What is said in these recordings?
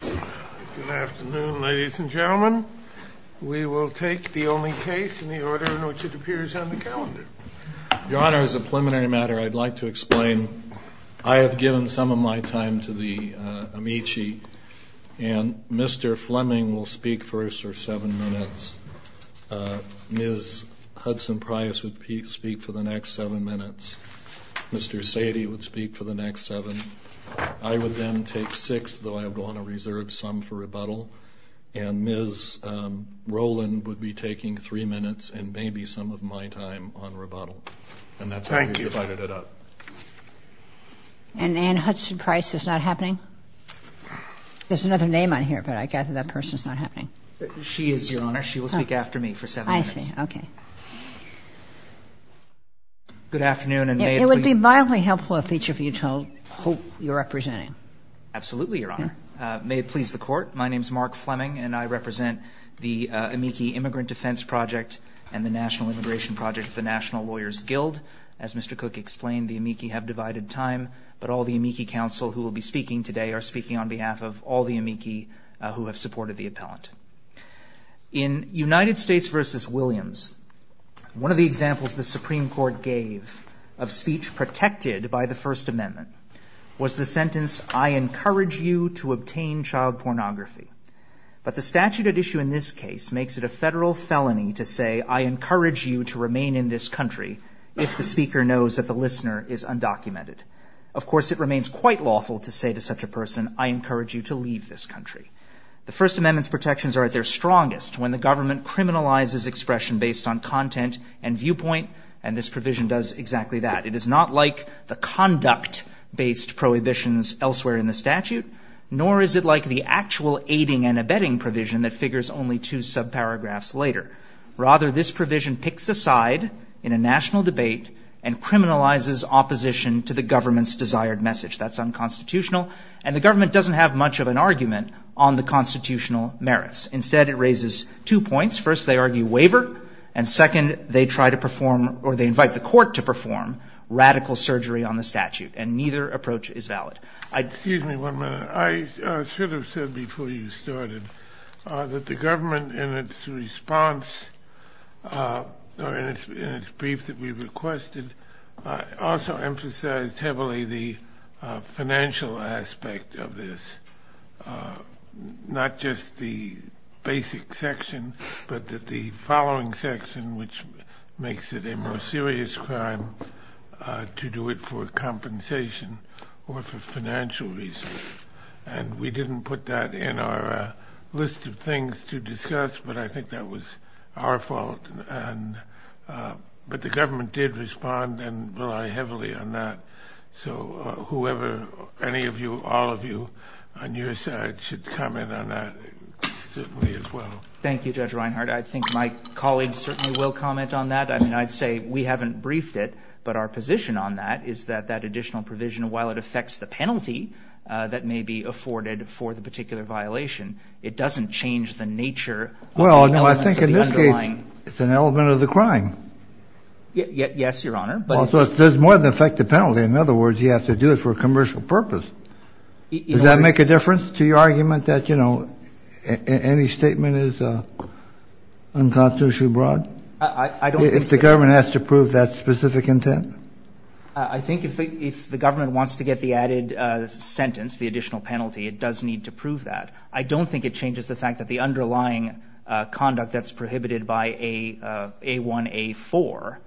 Good afternoon, ladies and gentlemen. We will take the only case in the order in which it appears on the calendar. Your Honor, as a preliminary matter, I'd like to explain. I have given some of my time to the amici, and Mr. Fleming will speak first for seven minutes. Ms. Hudson-Price will speak for the next seven minutes. Mr. Sadie will speak for the next seven. I would then take six, though I am going to reserve some for rebuttal. And Ms. Rowland would be taking three minutes and maybe some of my time on rebuttal. And that's where we divided it up. And Anne Hudson-Price is not happening? There's another name on here, but I gather that person is not happening. She is, Your Honor. She will speak after me for seven minutes. I see. Okay. Good afternoon, and may I... It would be mildly helpful if each of you told who you are representing. Absolutely, Your Honor. May it please the Court. My name is Mark Fleming, and I represent the amici Immigrant Defense Project and the National Immigration Project of the National Lawyers Guild. As Mr. Cook explained, the amici have divided time, but all the amici counsel who will be speaking today are speaking on behalf of all the amici who have supported the appellant. In United States v. Williams, one of the examples the Supreme Court gave of speech protected by the First Amendment was the sentence, I encourage you to obtain child pornography. But the statute at issue in this case makes it a federal felony to say, I encourage you to remain in this country if the speaker knows that the listener is undocumented. Of course, it remains quite lawful to say to such a person, I encourage you to leave this country. The First Amendment's protections are at their strongest when the government criminalizes expression based on content and viewpoint, and this provision does exactly that. It is not like the conduct-based prohibitions elsewhere in the statute, nor is it like the actual aiding and abetting provision that figures only two subparagraphs later. Rather, this provision picks a side in a national debate and criminalizes opposition to the government's desired message. That's unconstitutional, and the government doesn't have much of an argument on the constitutional merits. Instead, it raises two points. First, they argue waiver, and second, they try to perform, or they invite the court to perform, radical surgery on the statute, and neither approach is valid. Excuse me one minute. I should have said before you started that the government in its response, or in its brief that we requested, also emphasized heavily the financial aspect of this, not just the basic section, but the following section, which makes it a more serious crime to do it for compensation or for financial reasons. We didn't put that in our list of things to discuss, but I think that was our fault. But the government did respond and rely heavily on that, so whoever, any of you, all of you on your side should comment on that certainly as well. Thank you, Judge Reinhart. I think my colleagues certainly will comment on that. I mean, I'd say we haven't briefed it, but our position on that is that that additional provision, while it affects the penalty that may be afforded for the particular violation, it doesn't change the nature of the element of the crime. Well, no, I think in this case it's an element of the crime. Yes, Your Honor. Also, it does more than affect the penalty. In other words, you have to do it for a commercial purpose. Does that make a difference to your argument that, you know, any statement is unconstitutionally broad? I don't think so. If the government has to prove that specific intent? I think if the government wants to get the added sentence, the additional penalty, it does need to prove that. I don't think it changes the fact that the underlying conduct that's prohibited by A1A4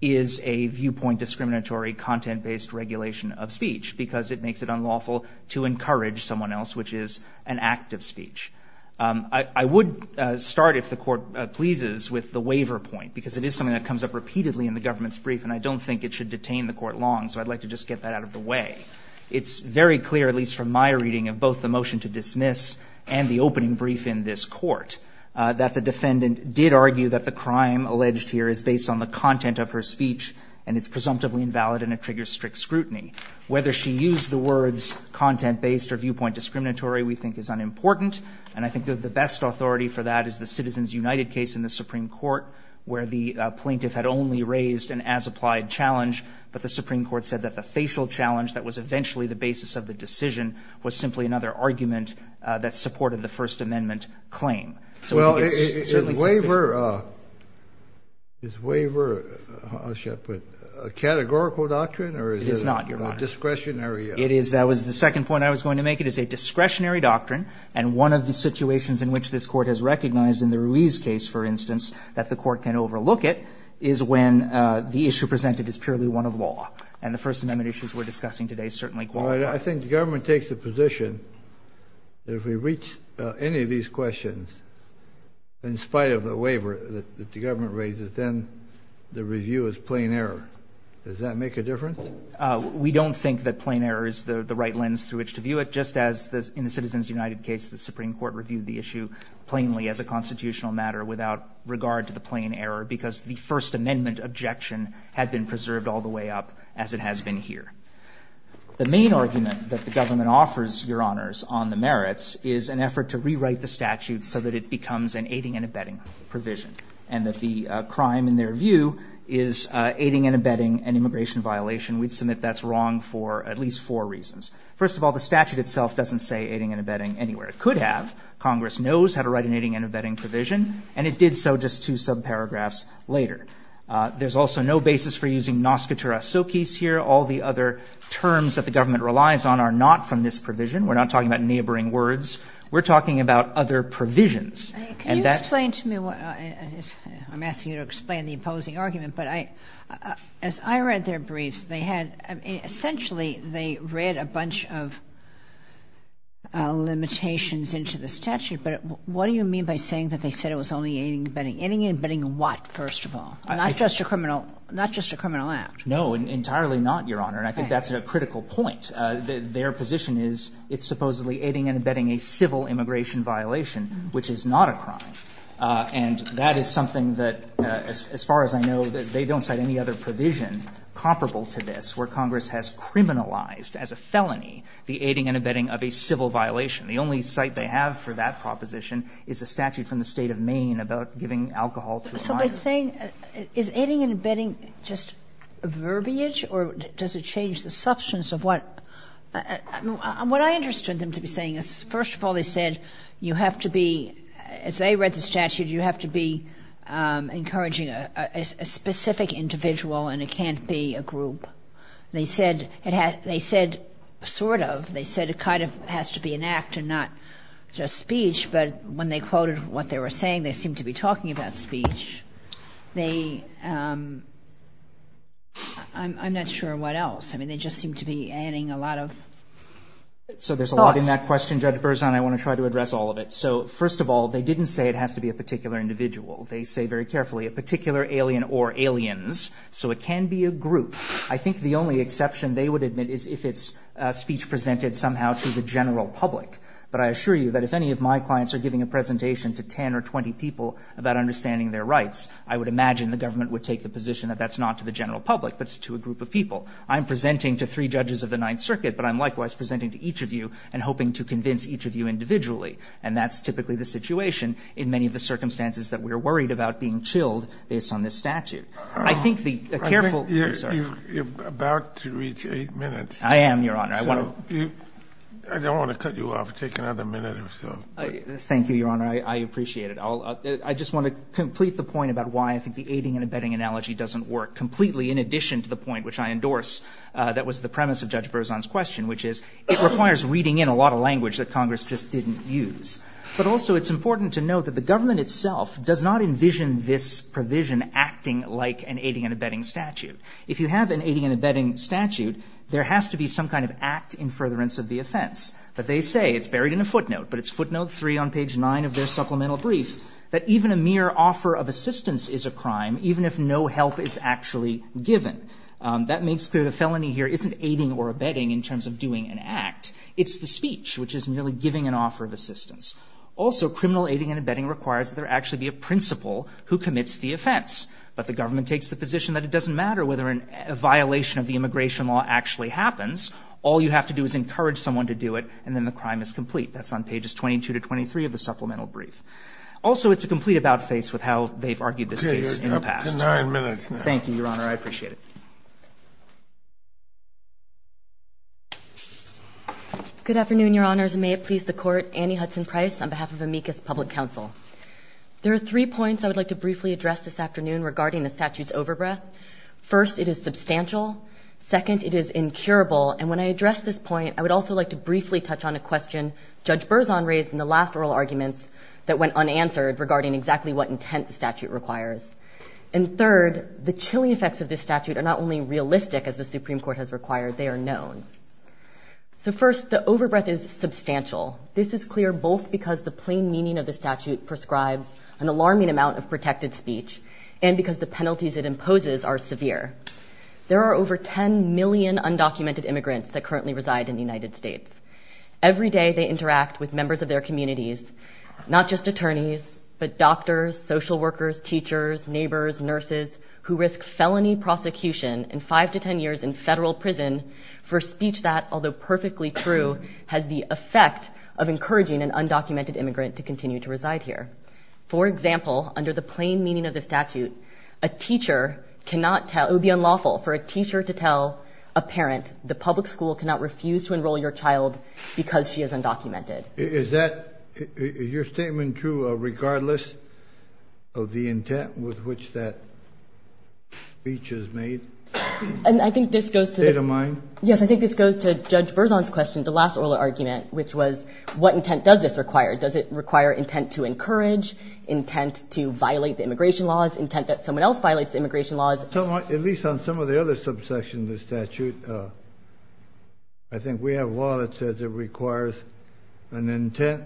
is a viewpoint discriminatory content-based regulation of speech because it makes it unlawful to encourage someone else, which is an act of speech. I would start, if the Court pleases, with the waiver point because it is something that comes up repeatedly in the government's brief, and I don't think it should detain the Court long, so I'd like to just get that out of the way. It's very clear, at least from my reading of both the motion to dismiss and the opening brief in this Court, that the defendant did argue that the crime alleged here is based on the content of her speech and it's presumptively invalid and it triggers strict scrutiny. Whether she used the words content-based or viewpoint discriminatory we think is unimportant, and I think the best authority for that is the Citizens United case in the Supreme Court where the plaintiff had only raised an as-applied challenge, but the Supreme Court said that the facial challenge that was eventually the basis of the decision was simply another argument that supported the First Amendment claim. Well, is waiver a categorical doctrine or is it a discretionary? It is not, Your Honor. The second point I was going to make, it is a discretionary doctrine, and one of the situations in which this Court has recognized in the Ruiz case, for instance, that the Court can overlook it is when the issue presented is purely one of law, and the First Amendment issues we're discussing today certainly qualify. I think the government takes the position that if we reach any of these questions in spite of the waiver that the government raises, then the review is plain error. Does that make a difference? We don't think that plain error is the right lens through which to view it, just as in the Citizens United case the Supreme Court reviewed the issue plainly as a constitutional matter without regard to the plain error because the First Amendment objection had been preserved all the way up as it has been here. The main argument that the government offers, Your Honors, on the merits is an effort to rewrite the statute so that it becomes an aiding and abetting provision and that the crime in their view is aiding and abetting an immigration violation. We'd submit that's wrong for at least four reasons. First of all, the statute itself doesn't say aiding and abetting anywhere. It could have. Congress knows how to write an aiding and abetting provision, and it did so just two sub-paragraphs later. There's also no basis for using nascotura socis here. All the other terms that the government relies on are not from this provision. We're not talking about neighboring words. We're talking about other provisions. Can you explain to me what I'm asking you to explain the opposing argument? As I read their briefs, essentially they read a bunch of limitations into the statute, but what do you mean by saying that they said it was only aiding and abetting? Aiding and abetting what, first of all? Not just a criminal act. No, entirely not, Your Honor. I think that's a critical point. Their position is it's supposedly aiding and abetting a civil immigration violation, which is not a crime. And that is something that, as far as I know, they don't cite any other provision comparable to this where Congress has criminalized as a felony the aiding and abetting of a civil violation. The only cite they have for that proposition is a statute from the state of Maine about giving alcohol to a minor. So they're saying is aiding and abetting just a verbiage, or does it change the substance of what? What I understood them to be saying is, first of all, they said you have to be, as they read the statute, you have to be encouraging a specific individual, and it can't be a group. They said sort of. They said it kind of has to be an act and not just speech, but when they quoted what they were saying, they seemed to be talking about speech. They, I'm not sure what else. I mean, they just seemed to be adding a lot of thought. So there's a lot in that question, Judge Berzon. I want to try to address all of it. So first of all, they didn't say it has to be a particular individual. They say very carefully, a particular alien or aliens. So it can be a group. I think the only exception they would admit is if it's speech presented somehow to the general public. But I assure you that if any of my clients are giving a presentation to 10 or 20 people about understanding their rights, I would imagine the government would take the position that that's not to the general public, but to a group of people. I'm presenting to three judges of the Ninth Circuit, but I'm likewise presenting to each of you and hoping to convince each of you individually, and that's typically the situation in many of the circumstances that we're worried about being chilled based on this statute. I think the careful... You're about to reach eight minutes. I am, Your Honor. I don't want to cut you off. Take another minute or so. Thank you, Your Honor. I appreciate it. I just want to complete the point about why I think the aiding and abetting analogy doesn't work completely in addition to the point which I endorsed that was the premise of Judge Berzon's question, which is it requires weeding in a lot of language that Congress just didn't use. But also it's important to note that the government itself does not envision this provision acting like an aiding and abetting statute. If you have an aiding and abetting statute, there has to be some kind of act in furtherance of the offense. But they say, it's buried in a footnote, but it's footnote three on page nine of their supplemental brief, that even a mere offer of assistance is a crime, even if no help is actually given. That makes clear the felony here isn't aiding or abetting in terms of doing an act. It's the speech, which is merely giving an offer of assistance. Also, criminal aiding and abetting requires that there actually be a principal who commits the offense. But the government takes the position that it doesn't matter whether a violation of the immigration law actually happens. All you have to do is encourage someone to do it, and then the crime is complete. That's on pages 22 to 23 of the supplemental brief. Also, it's a complete about-face with how they've argued this case in the past. Thank you, Your Honor. I appreciate it. Good afternoon, Your Honors, and may it please the Court. Annie Hudson Price on behalf of Amicus Public Counsel. There are three points I would like to briefly address this afternoon regarding the statute's overbreath. First, it is substantial. Second, it is incurable. And when I address this point, I would also like to briefly touch on a question Judge Berzon raised in the last oral argument that went unanswered regarding exactly what intent the statute requires. And third, the chilling effects of this statute are not only realistic, as the Supreme Court has required, they are known. So first, the overbreath is substantial. This is clear both because the plain meaning of the statute prescribes an alarming amount of protected speech, and because the penalties it imposes are severe. There are over 10 million undocumented immigrants that currently reside in the United States. Every day they interact with members of their communities, not just attorneys, but doctors, social workers, teachers, neighbors, nurses, who risk felony prosecution and 5 to 10 years in federal prison for speech that, although perfectly true, has the effect of encouraging an undocumented immigrant to continue to reside here. For example, under the plain meaning of the statute, a teacher cannot tell – it would be unlawful for a teacher to tell a parent, the public school cannot refuse to enroll your child because she is undocumented. Is that – is your statement true regardless of the intent with which that speech is made? And I think this goes to – State of mind? Yes, I think this goes to Judge Berzon's question, the last oral argument, which was, what intent does this require? Does it require intent to encourage, intent to violate the immigration laws, intent that someone else violates the immigration laws? At least on some of the other subsections of the statute, I think we have law that says it requires an intent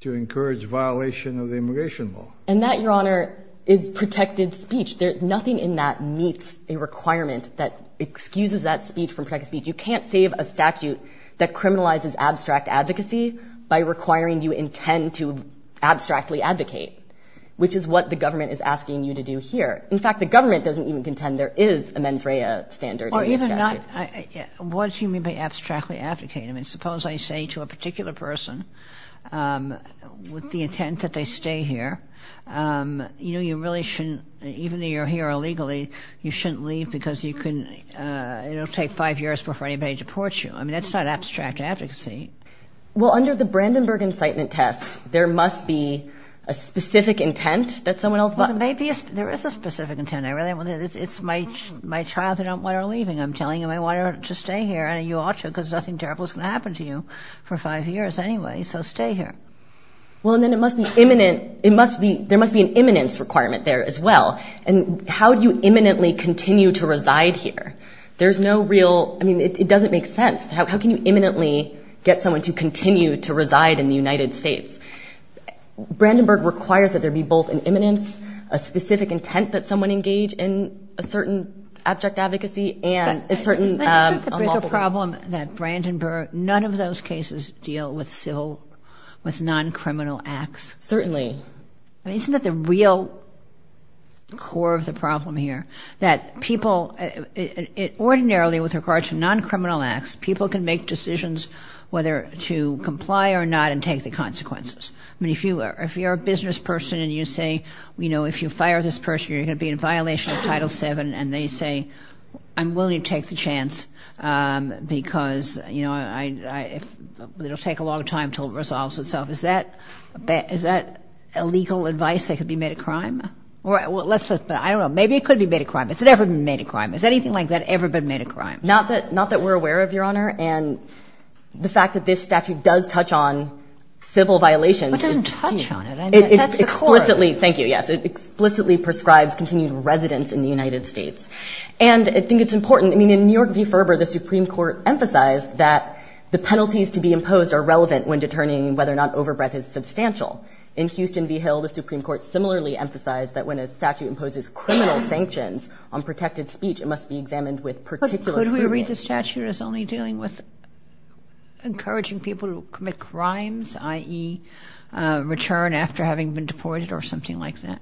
to encourage violation of the immigration law. And that, Your Honor, is protected speech. Nothing in that meets a requirement that excuses that speech from protected speech. You can't save a statute that criminalizes abstract advocacy by requiring you intend to abstractly advocate, which is what the government is asking you to do here. In fact, the government doesn't even contend there is a MENFREA standard. Well, even that – what do you mean by abstractly advocating? I mean, suppose I say to a particular person with the intent that they stay here, you know, you really shouldn't – even though you're here illegally, you shouldn't leave because you couldn't – it'll take five years before anybody deports you. I mean, that's not abstract advocacy. Well, under the Brandenburg incitement test, there must be a specific intent that someone else – Well, maybe there is a specific intent. It's my child that I don't want her leaving, I'm telling you. I want her to stay here, and you ought to because nothing terrible is going to happen to you for five years anyway, so stay here. Well, and then it must be imminent – there must be an imminence requirement there as well. And how do you imminently continue to reside here? There's no real – I mean, it doesn't make sense. How can you imminently get someone to continue to reside in the United States? Brandenburg requires that there be both an imminence, a specific intent that someone engage in a certain abject advocacy, and a certain – There's a problem that Brandenburg – none of those cases deal with non-criminal acts. Certainly. Isn't that the real core of the problem here, that people – ordinarily, with regard to non-criminal acts, people can make decisions whether to comply or not and take the consequences. I mean, if you're a business person and you say, you know, if you fire this person, you're going to be in violation of Title VII, and they say, I'm willing to take the chance because, you know, it'll take a long time until it resolves itself. Is that illegal advice that could be made a crime? Well, let's just – I don't know. Maybe it could be made a crime. Has it ever been made a crime? Has anything like that ever been made a crime? Not that we're aware of, Your Honor. And the fact that this statute does touch on civil violations – It doesn't touch on it. It touches the court. It explicitly – thank you, yes. It explicitly prescribes continued residence in the United States. And I think it's important – I mean, in New York v. Ferber, the Supreme Court emphasized that the penalties to be imposed are relevant when determining whether or not overbreadth is substantial. In Houston v. Hill, the Supreme Court similarly emphasized that when a statute imposes criminal sanctions on protected speech, it must be examined with particular – But could we read the statute as only dealing with encouraging people to commit crimes, i.e. return after having been deported or something like that?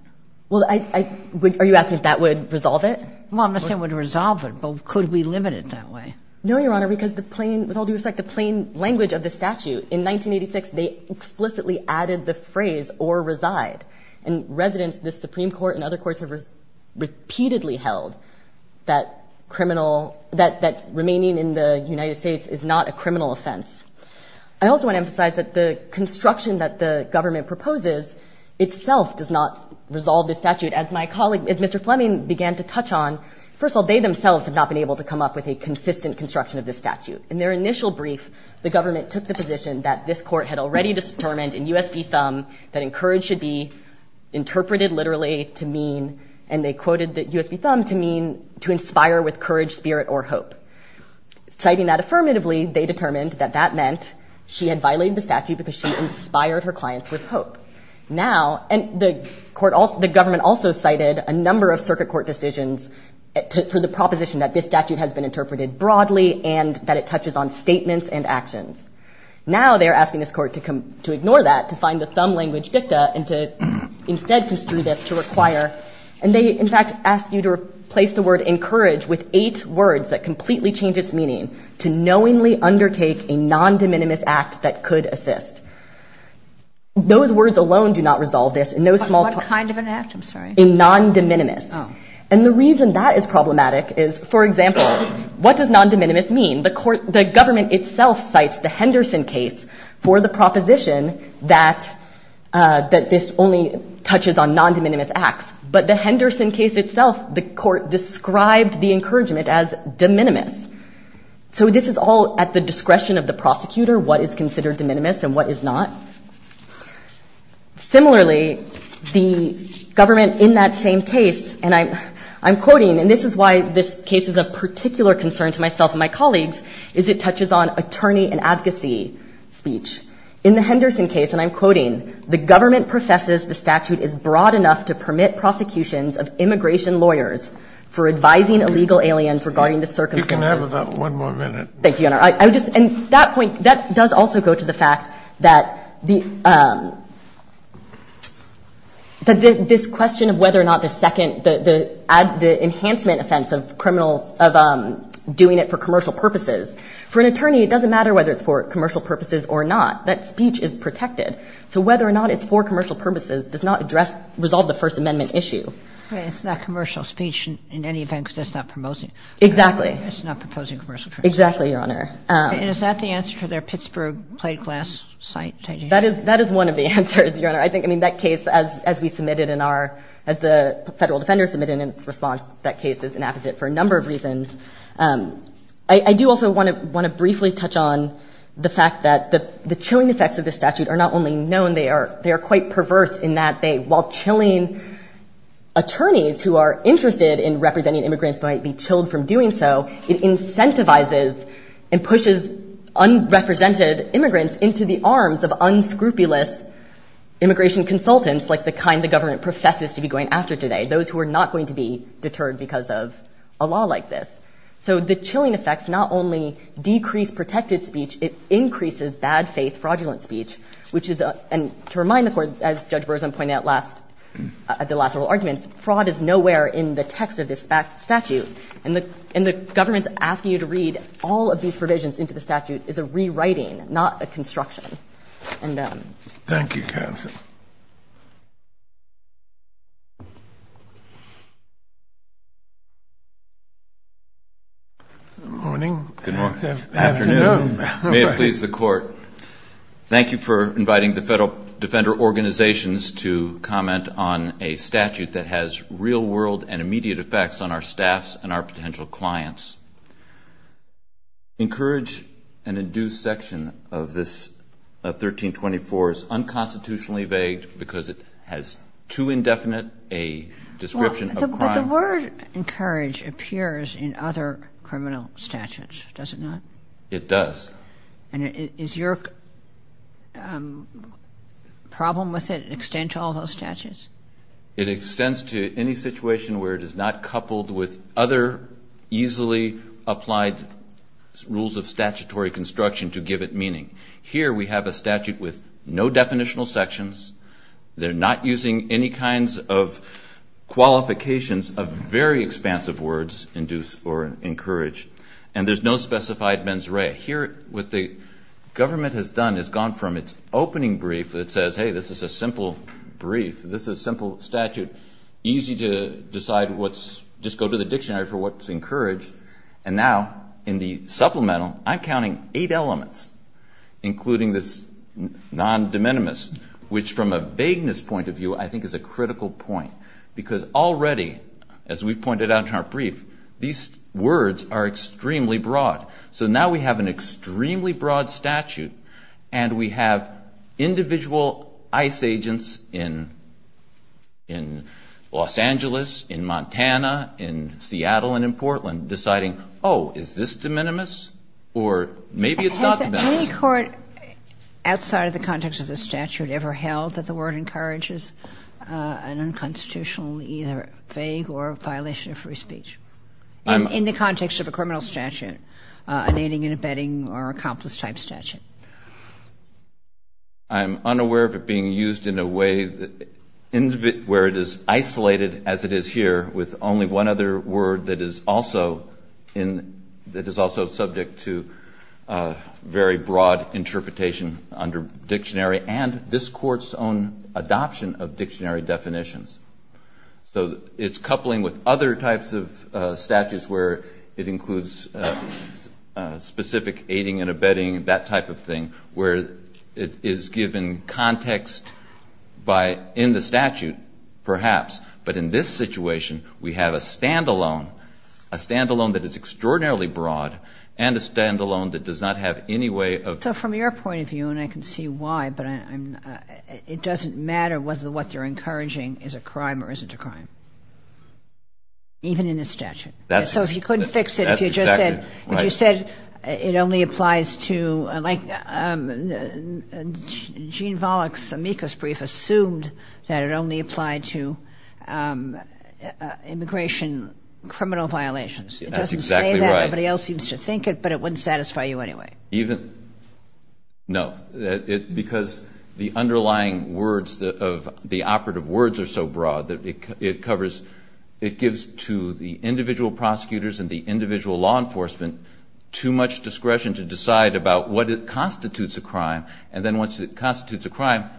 Well, I – are you asking if that would resolve it? Well, I'm not saying it would resolve it, but could we limit it that way? No, Your Honor, because the plain – with all due respect, the plain language of the statute – in 1986, they explicitly added the phrase, or reside. And residents of the Supreme Court and other courts have repeatedly held that criminal – that remaining in the United States is not a criminal offense. I also want to emphasize that the construction that the government proposes itself does not resolve this statute. As my colleague – as Mr. Fleming began to touch on, first of all, they themselves have not been able to come up with a consistent construction of this statute. In their initial brief, the government took the position that this court had already determined, in U.S. v. Thumb, that encourage should be interpreted literally to mean – and they quoted U.S. v. Thumb to mean to inspire with courage, spirit, or hope. Citing that affirmatively, they determined that that meant she had violated the statute because she inspired her clients with hope. Now – and the court – the government also cited a number of circuit court decisions to the proposition that this statute has been interpreted broadly and that it touches on statements and actions. Now they're asking this court to ignore that, to find the Thumb language dicta, and to instead to sue this to require – and they, in fact, ask you to replace the word encourage with eight words that completely change its meaning, to knowingly undertake a non-de minimis act that could assist. Those words alone do not resolve this. But what kind of an act? I'm sorry. A non-de minimis. Oh. And the reason that is problematic is, for example, what does non-de minimis mean? The government itself cites the Henderson case for the proposition that this only touches on non-de minimis acts. But the Henderson case itself, the court described the encouragement as de minimis. So this is all at the discretion of the prosecutor, what is considered de minimis and what is not. Similarly, the government in that same case – and I'm quoting, and this is why this case is of particular concern to myself and my colleagues, is it touches on attorney and advocacy speech. In the Henderson case, and I'm quoting, the government professes the statute is broad enough to permit prosecutions of immigration lawyers for advising illegal aliens regarding the circumstances – You can have about one more minute. Thank you, Your Honor. And that point, that does also go to the fact that this question of whether or not the enhancement offense of criminal – of doing it for commercial purposes. For an attorney, it doesn't matter whether it's for commercial purposes or not. That speech is protected. So whether or not it's for commercial purposes does not resolve the First Amendment issue. It's not commercial speech, in any event, because it's not promoting. Exactly. It's not proposing commercial purposes. Exactly, Your Honor. And is that the answer for their Pittsburgh plate glass site? That is one of the answers, Your Honor. I think in that case, as we submitted in our – as the federal defender submitted in response, that case is inappropriate for a number of reasons. I do also want to briefly touch on the fact that the chilling effects of this statute are not only known, they are quite perverse in that they, while chilling attorneys who are interested in representing immigrants might be chilled from doing so, it incentivizes and pushes unrepresented immigrants into the arms of unscrupulous immigration consultants, like the kind the government professes to be going after today, those who are not going to be deterred because of a law like this. So the chilling effects not only decrease protected speech, it increases bad faith fraudulent speech, which is – and to remind the court, as Judge Burzum pointed out at the last oral argument, fraud is nowhere in the text of this statute. And the government's asking you to read all of these provisions into the statute is a rewriting, not a construction. Thank you, Kansas. Good morning. Good morning. Afternoon. May it please the court. Thank you for inviting the federal defender organizations to comment on a statute that has real-world and immediate effects on our staffs and our potential clients. Encourage and induce section of this 1324 is unconstitutionally vague because it has too indefinite a description of crime. But the word encourage appears in other criminal statutes, does it not? It does. And is your problem with it an extent to all those statutes? It extends to any situation where it is not coupled with other easily applied rules of statutory construction to give it meaning. Here we have a statute with no definitional sections. They're not using any kinds of qualifications of very expansive words, induce or encourage, and there's no specified mens rea. Here what the government has done is gone from its opening brief that says, hey, this is a simple brief, this is a simple statute, easy to decide what's, just go to the dictionary for what's encouraged, and now in the supplemental, I'm counting eight elements, including this non-de minimis, which from a vagueness point of view I think is a critical point. Because already, as we've pointed out in our brief, these words are extremely broad. So now we have an extremely broad statute, and we have individual ICE agents in Los Angeles, in Montana, in Seattle and in Portland deciding, oh, is this de minimis, or maybe it's not de minimis. Has any court outside of the context of the statute ever held that the word encourages an unconstitutional either vague or violation of free speech? In the context of a criminal statute, a naming and abetting or accomplice type statute. I'm unaware of it being used in a way where it is isolated as it is here with only one other word that is also subject to very broad interpretation under dictionary and this court's own adoption of dictionary definitions. So it's coupling with other types of statutes where it includes specific aiding and abetting, that type of thing, where it is given context in the statute, perhaps. But in this situation, we have a stand-alone, a stand-alone that is extraordinarily broad, and a stand-alone that does not have any way of... Is it a crime or isn't it a crime? Even in the statute. So if you couldn't fix it, if you said it only applies to... Like Gene Volokh's amicus brief assumed that it only applied to immigration criminal violations. That's exactly right. It doesn't say that. Nobody else seems to think it, but it wouldn't satisfy you anyway. No, because the underlying words, the operative words are so broad that it covers... It gives to the individual prosecutors and the individual law enforcement too much discretion to decide about what constitutes a crime, and then once it constitutes a crime,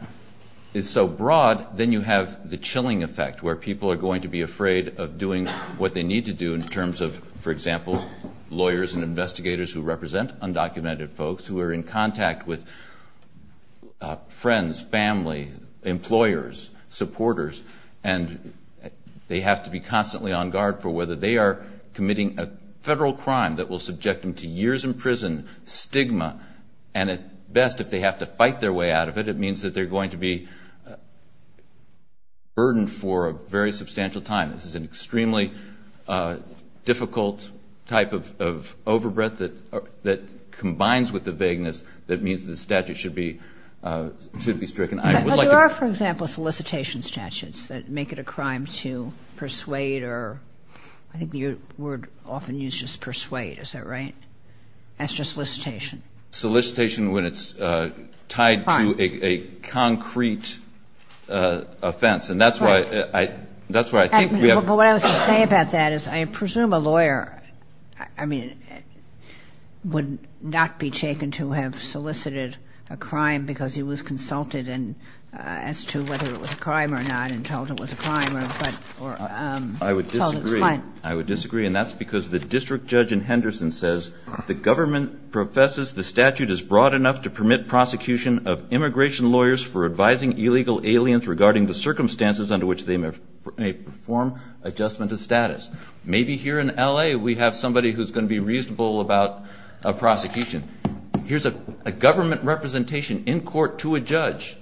it's so broad, then you have the chilling effect where people are going to be afraid of doing what they need to do in terms of, for example, lawyers and investigators who represent undocumented folks who are in contact with friends, family, employers, supporters, and they have to be constantly on guard for whether they are committing a federal crime that will subject them to years in prison, stigma, and at best, if they have to fight their way out of it, it means that they're going to be burdened for a very substantial time. This is an extremely difficult type of overbreath that combines with the vagueness that means the statute should be stricken. But there are, for example, solicitation statutes that make it a crime to persuade or I think the word often used is persuade. Is that right? That's just solicitation. Solicitation when it's tied to a concrete offense, and that's why I think we have... But what I was going to say about that is I presume a lawyer, I mean, would not be taken to have solicited a crime because he was consulted as to whether it was a crime or not and told it was a crime. I would disagree, and that's because the district judge in Henderson says, the government professes the statute is broad enough to permit prosecution of immigration lawyers for advising illegal aliens regarding the circumstances under which they may perform adjustment of status. Maybe here in L.A. we have somebody who's going to be reasonable about a prosecution. Here's a government representation in court to a judge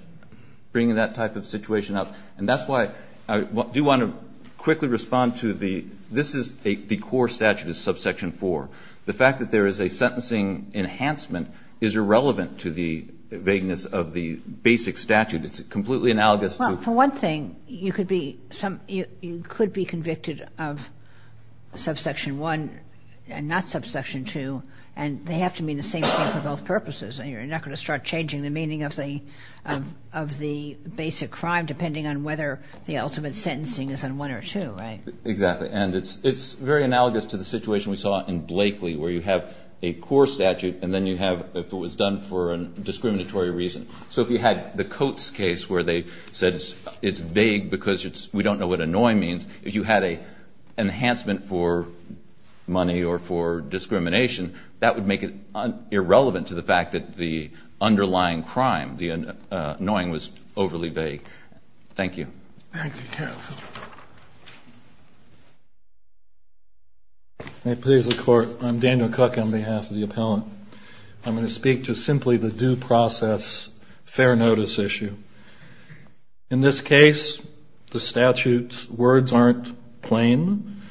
bringing that type of situation up, and that's why I do want to quickly respond to the... This is the core statute of Subsection 4. The fact that there is a sentencing enhancement is irrelevant to the vagueness of the basic statute. It's completely analogous to... For one thing, you could be convicted of Subsection 1 and not Subsection 2, and they have to mean the same thing for both purposes, and you're not going to start changing the meaning of the basic crime depending on whether the ultimate sentencing is on 1 or 2, right? Exactly, and it's very analogous to the situation we saw in Blakely where you have a core statute and then you have if it was done for a discriminatory reason. So if you had the Coates case where they said it's vague because we don't know what annoy means, if you had an enhancement for money or for discrimination, that would make it irrelevant to the fact that the underlying crime, the annoying, was overly vague. Thank you. Thank you, Kevin. May it please the Court, I'm Daniel Cook on behalf of the appellant. I'm going to speak to simply the due process fair notice issue. In this case, the statute's words aren't plain.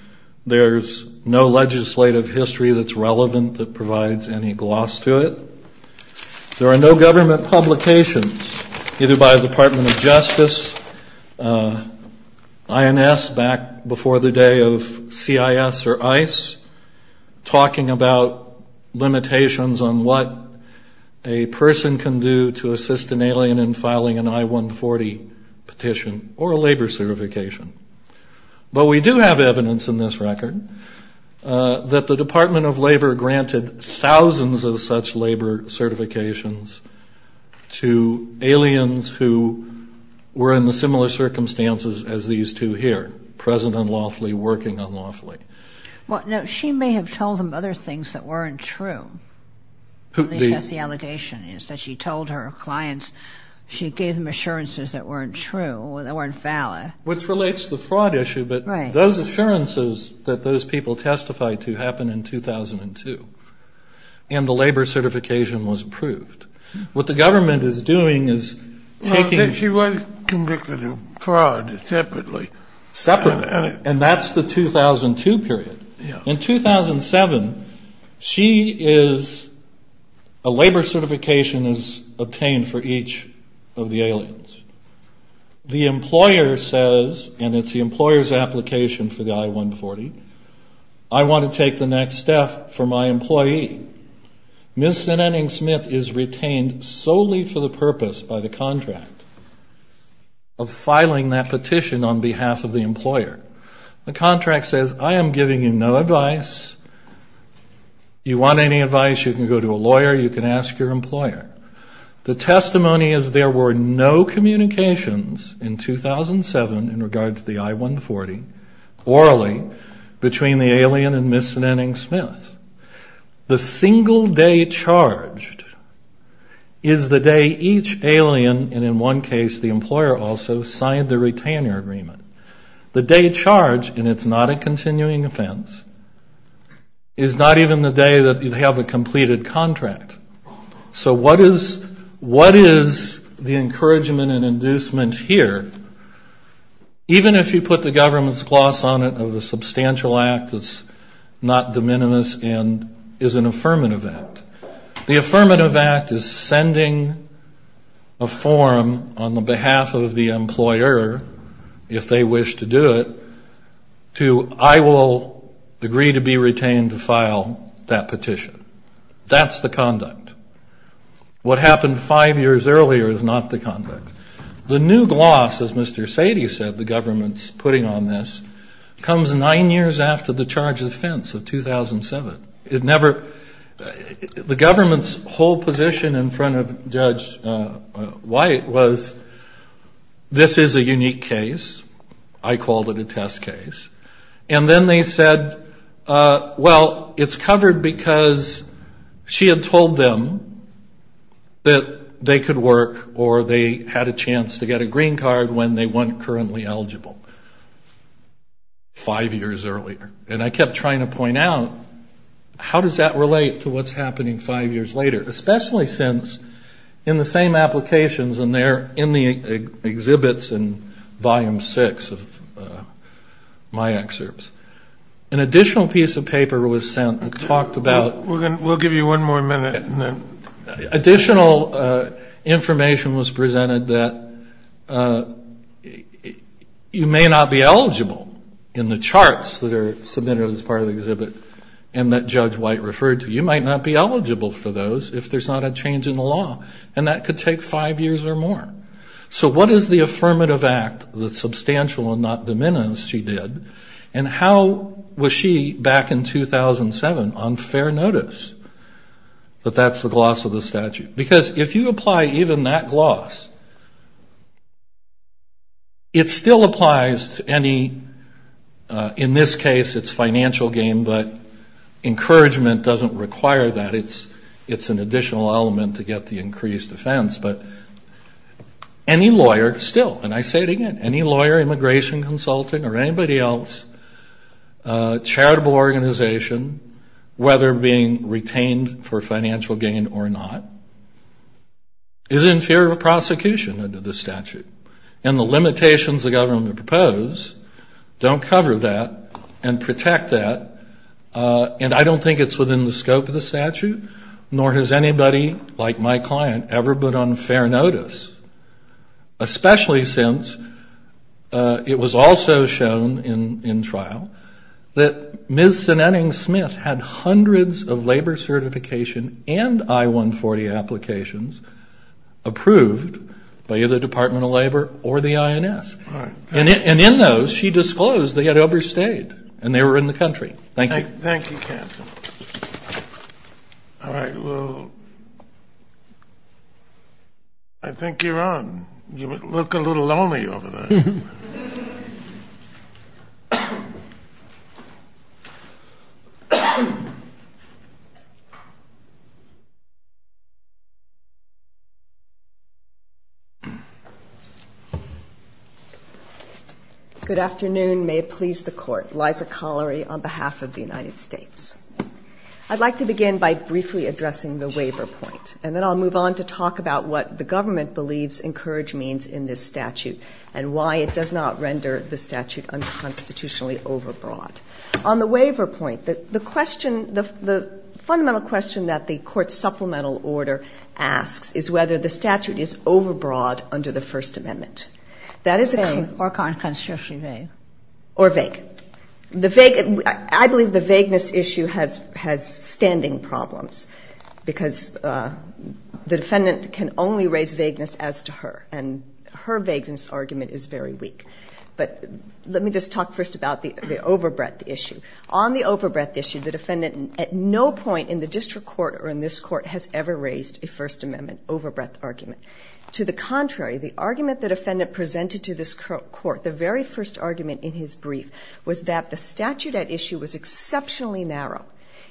There's no legislative history that's relevant that provides any gloss to it. There are no government publications, either by the Department of Justice, INS back before the day of CIS or ICE, talking about limitations on what a person can do to assist an alien in filing an I-140 petition or a labor certification. But we do have evidence in this record that the Department of Labor granted thousands of such labor certifications to aliens who were in the similar circumstances as these two here, present unlawfully, working unlawfully. Now, she may have told them other things that weren't true. The allegation is that she told her clients, she gave them assurances that weren't true, that weren't valid. Which relates to the fraud issue, but those assurances that those people testified to happened in 2002. And the labor certification was approved. What the government is doing is taking... Except she was convicted of fraud separately. Separately. And that's the 2002 period. In 2007, she is... a labor certification is obtained for each of the aliens. The employer says, and it's the employer's application for the I-140, I want to take the next step for my employee. Ms. Zenetting-Smith is retained solely for the purpose by the contract of filing that petition on behalf of the employer. The contract says, I am giving you no advice. You want any advice, you can go to a lawyer, you can ask your employer. The testimony is there were no communications in 2007 in regards to the I-140, orally, between the alien and Ms. Zenetting-Smith. The single day charged is the day each alien, and in one case the employer also, signed the retainer agreement. The day charged, and it's not a continuing offense, is not even the day that you have a completed contract. So what is the encouragement and inducement here? Even if you put the government's gloss on it of a substantial act that's not de minimis and is an affirmative act. The affirmative act is sending a form on behalf of the employer, if they wish to do it, to I will agree to be retained to file that petition. That's the conduct. What happened five years earlier is not the conduct. The new gloss, as Mr. Sadie said, the government's putting on this, comes nine years after the charge of offense of 2007. The government's whole position in front of Judge White was, this is a unique case. I called it a test case. And then they said, well, it's covered because she had told them that they could work or they had a chance to get a green card when they weren't currently eligible five years earlier. And I kept trying to point out, how does that relate to what's happening five years later? Especially since in the same applications in the exhibits in volume six of my excerpts, an additional piece of paper was sent that talked about- We'll give you one more minute. Additional information was presented that you may not be eligible in the charts that are submitted as part of the exhibit and that Judge White referred to. You might not be eligible for those if there's not a change in the law. And that could take five years or more. So what is the affirmative act that's substantial and not diminished, she did, and how was she, back in 2007, on fair notice that that's the gloss of the statute? Because if you apply even that gloss, it still applies to any- In this case, it's financial gain, but encouragement doesn't require that. It's an additional element to get the increased offense. But any lawyer, still, and I say it again, any lawyer, immigration consulting or anybody else, charitable organization, whether being retained for financial gain or not, is inferior to prosecution under the statute. And the limitations the government proposed don't cover that and protect that, and I don't think it's within the scope of the statute, nor has anybody like my client ever been on fair notice. Especially since it was also shown in trial that Ms. Sinning-Smith had hundreds of labor certification and I-140 applications approved by either the Department of Labor or the INS. And in those, she disclosed they had overstayed and they were in the country. Thank you. Thank you, counsel. All right, well, I think you're on. You look a little lonely over there. Good afternoon. May it please the court. Liza Collery on behalf of the United States. I'd like to begin by briefly addressing the waiver point, and then I'll move on to talk about what the government believes encouraged means in this statute and why it does not render the statute unconstitutionally overbroad. On the waiver point, the fundamental question that the court's supplemental order asks is whether the statute is overbroad under the First Amendment. That is a claim- Or vague. Or vague. I believe the vagueness issue has standing problems, because the defendant can only raise vagueness as to her, and her vagueness argument is very weak. But let me just talk first about the overbreadth issue. On the overbreadth issue, the defendant at no point in the district court or in this court has ever raised a First Amendment overbreadth argument. To the contrary, the argument the defendant presented to this court, the very first argument in his brief, was that the statute at issue was exceptionally narrow.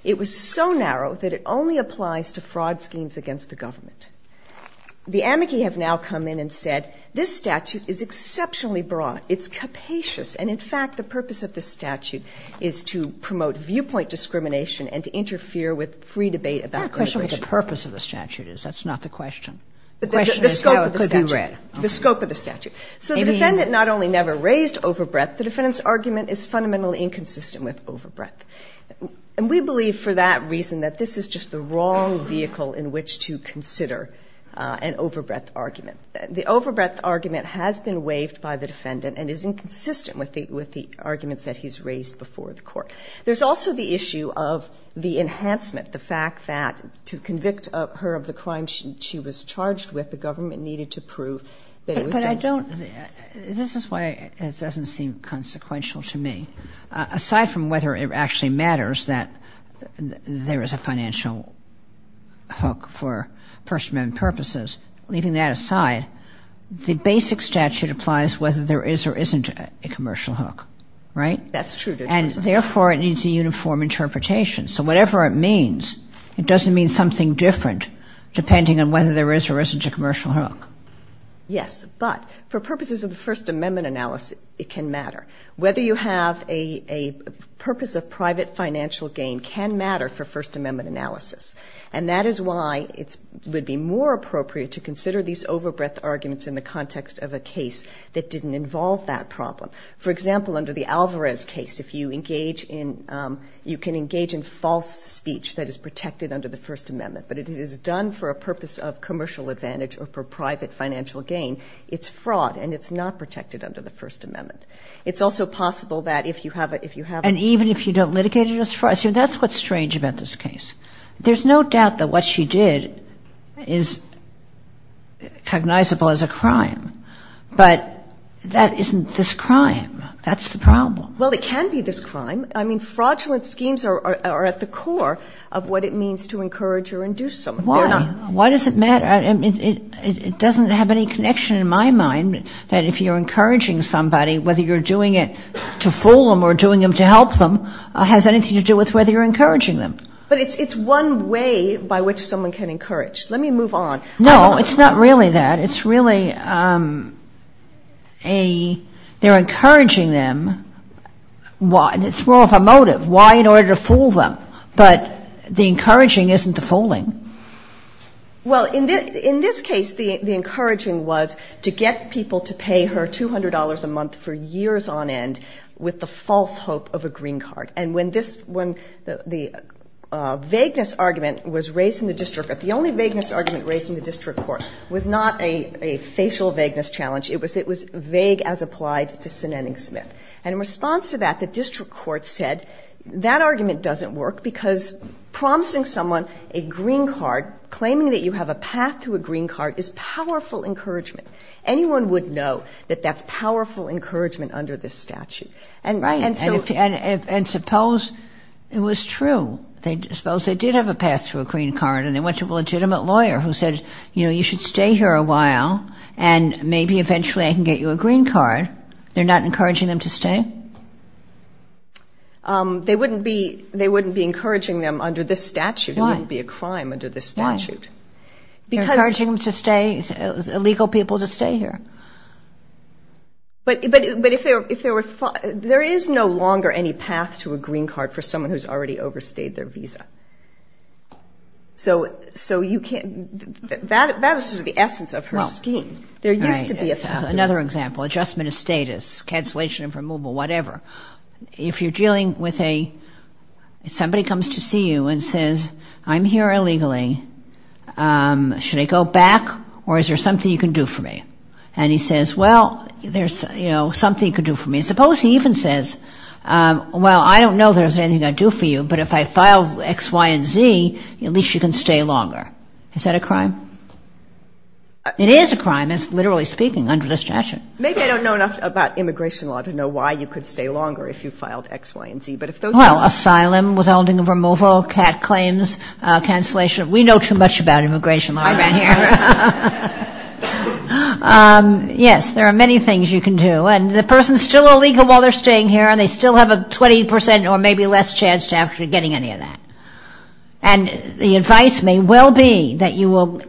It was so narrow that it only applies to fraud schemes against the government. The amici have now come in and said, this statute is exceptionally broad. It's capacious. And in fact, the purpose of this statute is to promote viewpoint discrimination and to interfere with free debate about immigration. I have a question of what the purpose of the statute is. That's not the question. The question is how it could be read. The scope of the statute. So the defendant not only never raised overbreadth, the defendant's argument is fundamentally inconsistent with overbreadth. And we believe for that reason that this is just the wrong vehicle in which to consider an overbreadth argument. The overbreadth argument has been waived by the defendant and is inconsistent with the argument that he's raised before the court. There's also the issue of the enhancement, the fact that to convict her of the crime she was charged with, the government needed to prove that it was done to her. This is why it doesn't seem consequential to me. Aside from whether it actually matters that there is a financial hook for First Amendment purposes, leaving that aside, the basic statute applies whether there is or isn't a commercial hook. Right? That's true. And therefore, it needs a uniform interpretation. So whatever it means, it doesn't mean something different depending on whether there is or isn't a commercial hook. Yes, but for purposes of the First Amendment analysis, it can matter. Whether you have a purpose of private financial gain can matter for First Amendment analysis. And that is why it would be more appropriate to consider these overbreadth arguments in the context of a case that didn't involve that problem. For example, under the Alvarez case, if you engage in, you can engage in false speech that is protected under the First Amendment, but if it is done for a purpose of commercial advantage or for private financial gain, it's fraud and it's not protected under the First Amendment. It's also possible that if you have a... And even if you don't litigate it as fraud. See, that's what's strange about this case. There's no doubt that what she did is cognizable as a crime, but that isn't this crime. That's the problem. Well, it can be this crime. I mean, fraudulent schemes are at the core of what it means to encourage or induce someone. Why? Why does it matter? I mean, it doesn't have any connection in my mind that if you're encouraging somebody, whether you're doing it to fool them or doing it to help them has anything to do with whether you're encouraging them. But it's one way by which someone can encourage. Let me move on. No, it's not really that. It's really they're encouraging them. It's more of a motive. Why in order to fool them? But the encouraging isn't the fooling. Well, in this case, the encouraging was to get people to pay her $200 a month for years on end with the false hope of a green card. And when the vagueness argument was raised in the district court, the only vagueness argument raised in the district court was not a facial vagueness challenge. It was vague as applied to Sinanning Smith. And in response to that, the district court said, that argument doesn't work because promising someone a green card, claiming that you have a path to a green card, is powerful encouragement. Anyone would know that that's powerful encouragement under this statute. And suppose it was true. Suppose they did have a path to a green card and they went to a legitimate lawyer who said, you know, you should stay here a while and maybe eventually I can get you a green card. They're not encouraging them to stay? They wouldn't be encouraging them under this statute. It wouldn't be a crime under this statute. They're encouraging illegal people to stay here. But there is no longer any path to a green card for someone who's already overstayed their visa. So that was just the essence of her scheme. Another example, adjustment of status, cancellation of removal, whatever. If somebody comes to see you and says, I'm here illegally, should I go back or is there something you can do for me? And he says, well, there's something you can do for me. Suppose he even says, well, I don't know there's anything I can do for you, but if I file X, Y, and Z, at least you can stay longer. Is that a crime? It is a crime, literally speaking, under this statute. Maybe they don't know enough about immigration law to know why you could stay longer if you filed X, Y, and Z. Well, asylum, withholding of removal, cat claims, cancellation. We know too much about immigration law. I've been here. Yes, there are many things you can do. And the person's still illegal while they're staying here and they still have a 20% or maybe less chance after getting any of that. And the advice may well be that you will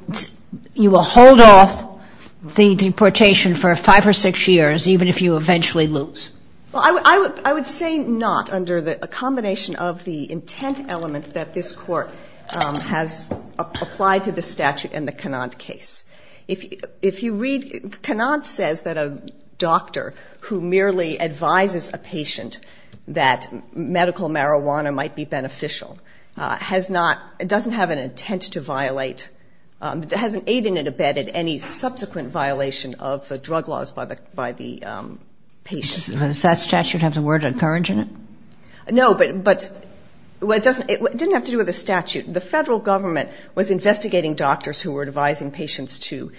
hold off the deportation for five or six years, even if you eventually lose. Well, I would say not under a combination of the intent elements that this court has applied to the statute in the Cunard case. Cunard says that a doctor who merely advises a patient that medical marijuana might be beneficial doesn't have an intent to violate, hasn't aided and abetted any subsequent violation of the drug laws by the patient. Does that statute have the word encouraging it? No, but it didn't have to do with the statute. The federal government was investigating doctors who were advising patients to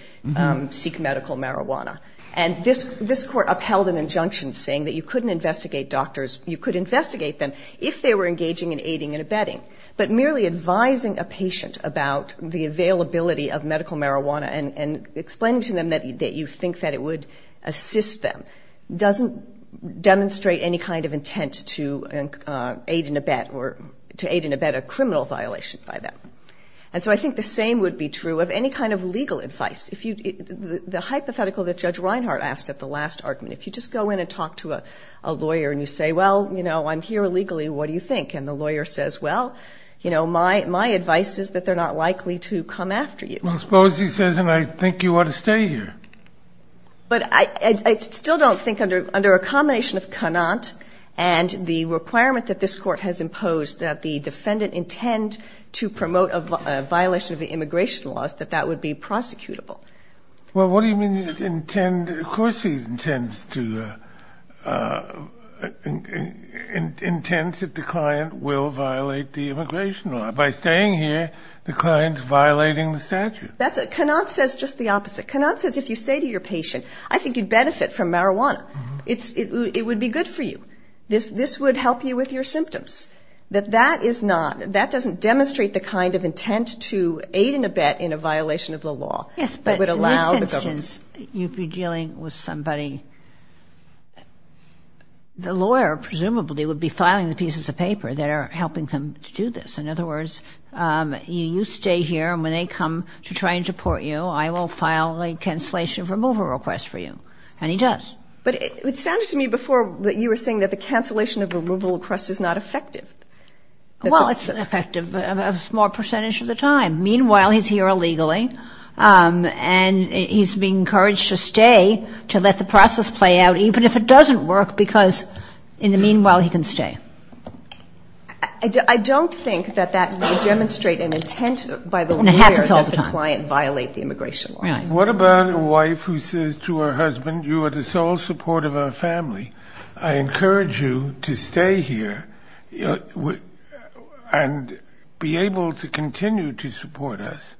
seek medical marijuana. And this court upheld an injunction saying that you couldn't investigate doctors, you could investigate them if they were engaging in aiding and abetting. But merely advising a patient about the availability of medical marijuana and explaining to them that you think that it would assist them doesn't demonstrate any kind of intent to aid and abet a criminal violation by them. And so I think the same would be true of any kind of legal advice. The hypothetical that Judge Reinhart asked at the last argument, if you just go in and talk to a lawyer and you say, well, you know, And the lawyer says, well, you know, my advice is that they're not likely to come after you. Well, suppose he says, and I think you ought to stay here. But I still don't think under a combination of and the requirement that this court has imposed that the defendant intend to promote a violation of the immigration laws that that would be prosecutable. Well, what do you mean he intends, of course he intends to, intends that the client will violate the immigration law. By staying here, the client's violating the statute. That's it. Knopf says just the opposite. Knopf says if you say to your patient, I think you'd benefit from marijuana. It would be good for you. This would help you with your symptoms. But that is not, that doesn't demonstrate the kind of intent to aid and abet in a violation of the law that would allow the government. In other words, you'd be dealing with somebody, the lawyer presumably would be filing the pieces of paper that are helping them to do this. In other words, you stay here and when they come to try and deport you, I will file a cancellation of removal request for you. And he does. But it sounded to me before that you were saying that the cancellation of removal request is not effective. Well, it's effective a small percentage of the time. Meanwhile, he's here illegally and he's being encouraged to stay to let the process play out even if it doesn't work because in the meanwhile he can stay. I don't think that that would demonstrate an intent by the lawyer that the client violate the immigration law. What about a wife who says to her husband, you are the sole support of our family. I encourage you to stay here and be able to continue to support us.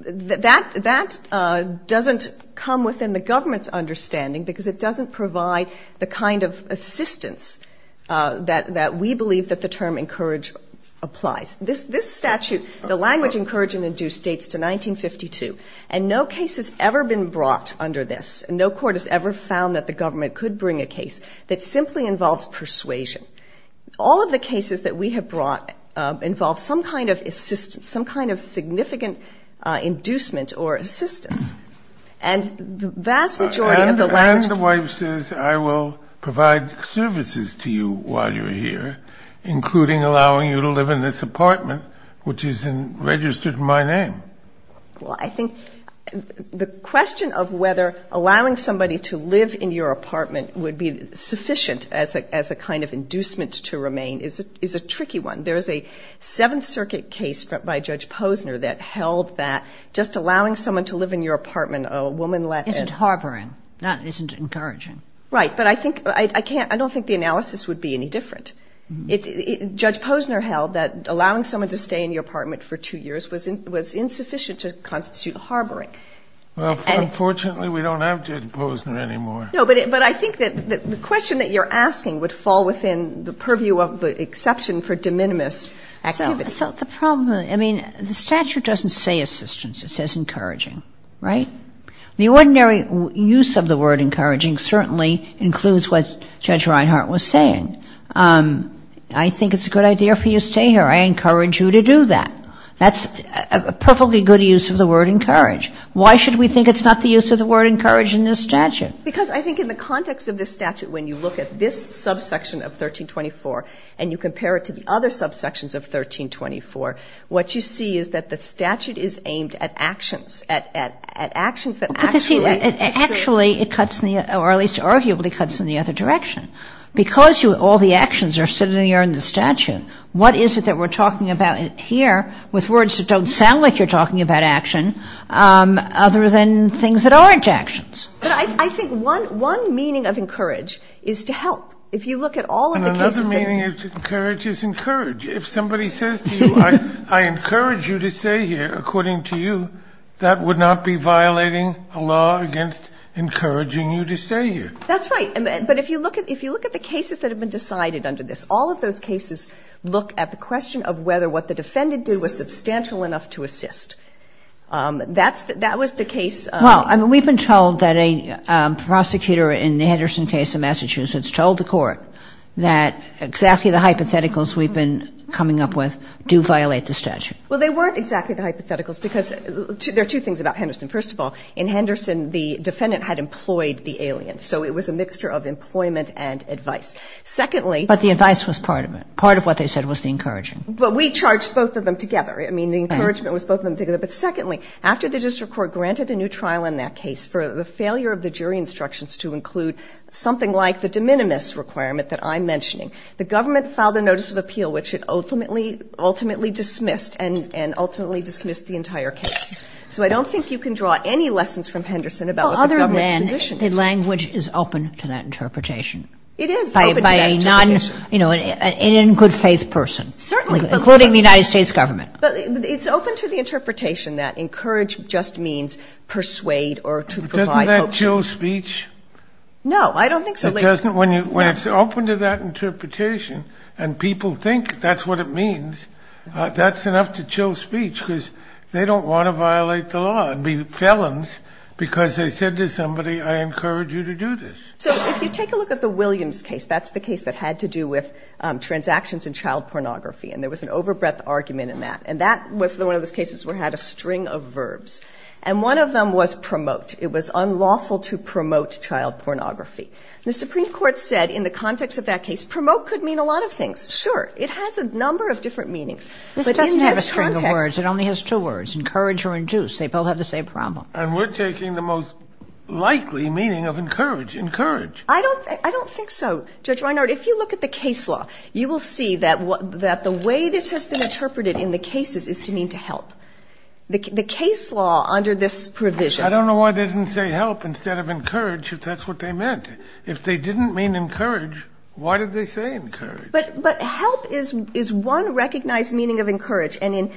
That doesn't come within the government's understanding because it doesn't provide the kind of assistance that we believe that the term encourage applies. This statute, the language encouraging the due states to 1952 and no case has ever been brought under this. No court has ever found that the government could bring a case that simply involves persuasion. All of the cases that we have brought involve some kind of assistance, some kind of significant inducement or assistance. And the wife says I will provide services to you while you're here including allowing you to live in this apartment which is registered in my name. Well, I think the question of whether allowing somebody to live in your apartment would be sufficient as a kind of inducement to remain is a tricky one. There is a Seventh Circuit case by Judge Posner that held that just allowing someone to live in your apartment, a woman let in. It's harboring, not encouraging. Right, but I don't think the analysis would be any different. Judge Posner held that allowing someone to stay in your apartment for two years was insufficient to constitute harboring. Well, unfortunately we don't have Judge Posner anymore. No, but I think that the question that you're asking would fall within the purview of the exception for de minimis. So the problem, I mean, the statute doesn't say assistance. It says encouraging, right? The ordinary use of the word encouraging certainly includes what Judge Reinhart was saying. I think it's a good idea for you to stay here. I encourage you to do that. That's a perfectly good use of the word encourage. Why should we think it's not the use of the word encourage in this statute? Because I think in the context of this statute when you look at this subsection of 1324 and you compare it to the other subsections of 1324, what you see is that the statute is aimed at actions. Actually, or at least arguably, it cuts in the other direction. Because all the actions are sitting here in the statute, what is it that we're talking about here with words that don't sound like you're talking about action other than things that aren't actions? But I think one meaning of encourage is to help. Another meaning of encourage is encourage. If somebody says to you, I encourage you to stay here, according to you, that would not be violating a law against encouraging you to stay here. That's right. But if you look at the cases that have been decided under this, all of those cases look at the question of whether what the defendant did was substantial enough to assist. That was the case. Well, we've been told that a prosecutor in the Henderson case in Massachusetts told the court that exactly the hypotheticals we've been coming up with do violate the statute. Well, they weren't exactly the hypotheticals because there are two things about Henderson. First of all, in Henderson, the defendant had employed the alien, so it was a mixture of employment and advice. But the advice was part of it. Part of what they said was the encouraging. But we charged both of them together. The encouragement was both of them together. But secondly, after the district court granted a new trial in that case for the failure of the jury instructions to include something like the de minimis requirement that I'm mentioning, the government filed a notice of appeal, which it ultimately dismissed and ultimately dismissed the entire case. So I don't think you can draw any lessons from Henderson about what the government's position is. Well, other than the language is open to that interpretation. It is open to that interpretation. By an in-good-faith person. Certainly. Including the United States government. But it's open to the interpretation that encourage just means persuade or to provide hope. Doesn't that chill speech? No, I don't think so. When it's open to that interpretation and people think that's what it means, that's enough to chill speech because they don't want to violate the law and be felons because they said to somebody, I encourage you to do this. So if you take a look at the Williams case, that's the case that had to do with transactions and child pornography. And there was an over-breath argument in that. And that was one of the cases that had a string of verbs. And one of them was promote. It was unlawful to promote child pornography. The Supreme Court said in the context of that case, promote could mean a lot of things. Sure. It has a number of different meanings. It doesn't have a string of words. It only has two words. Encourage or induce. They both have the same problem. And we're taking the most likely meaning of encourage. Encourage. I don't think so. Judge Reinhardt, if you look at the case law, you will see that the way this has been interpreted in the cases is to mean to help. The case law under this provision. I don't know why they didn't say help instead of encourage if that's what they meant. If they didn't mean encourage, why did they say encourage? But help is one recognized meaning of encourage. And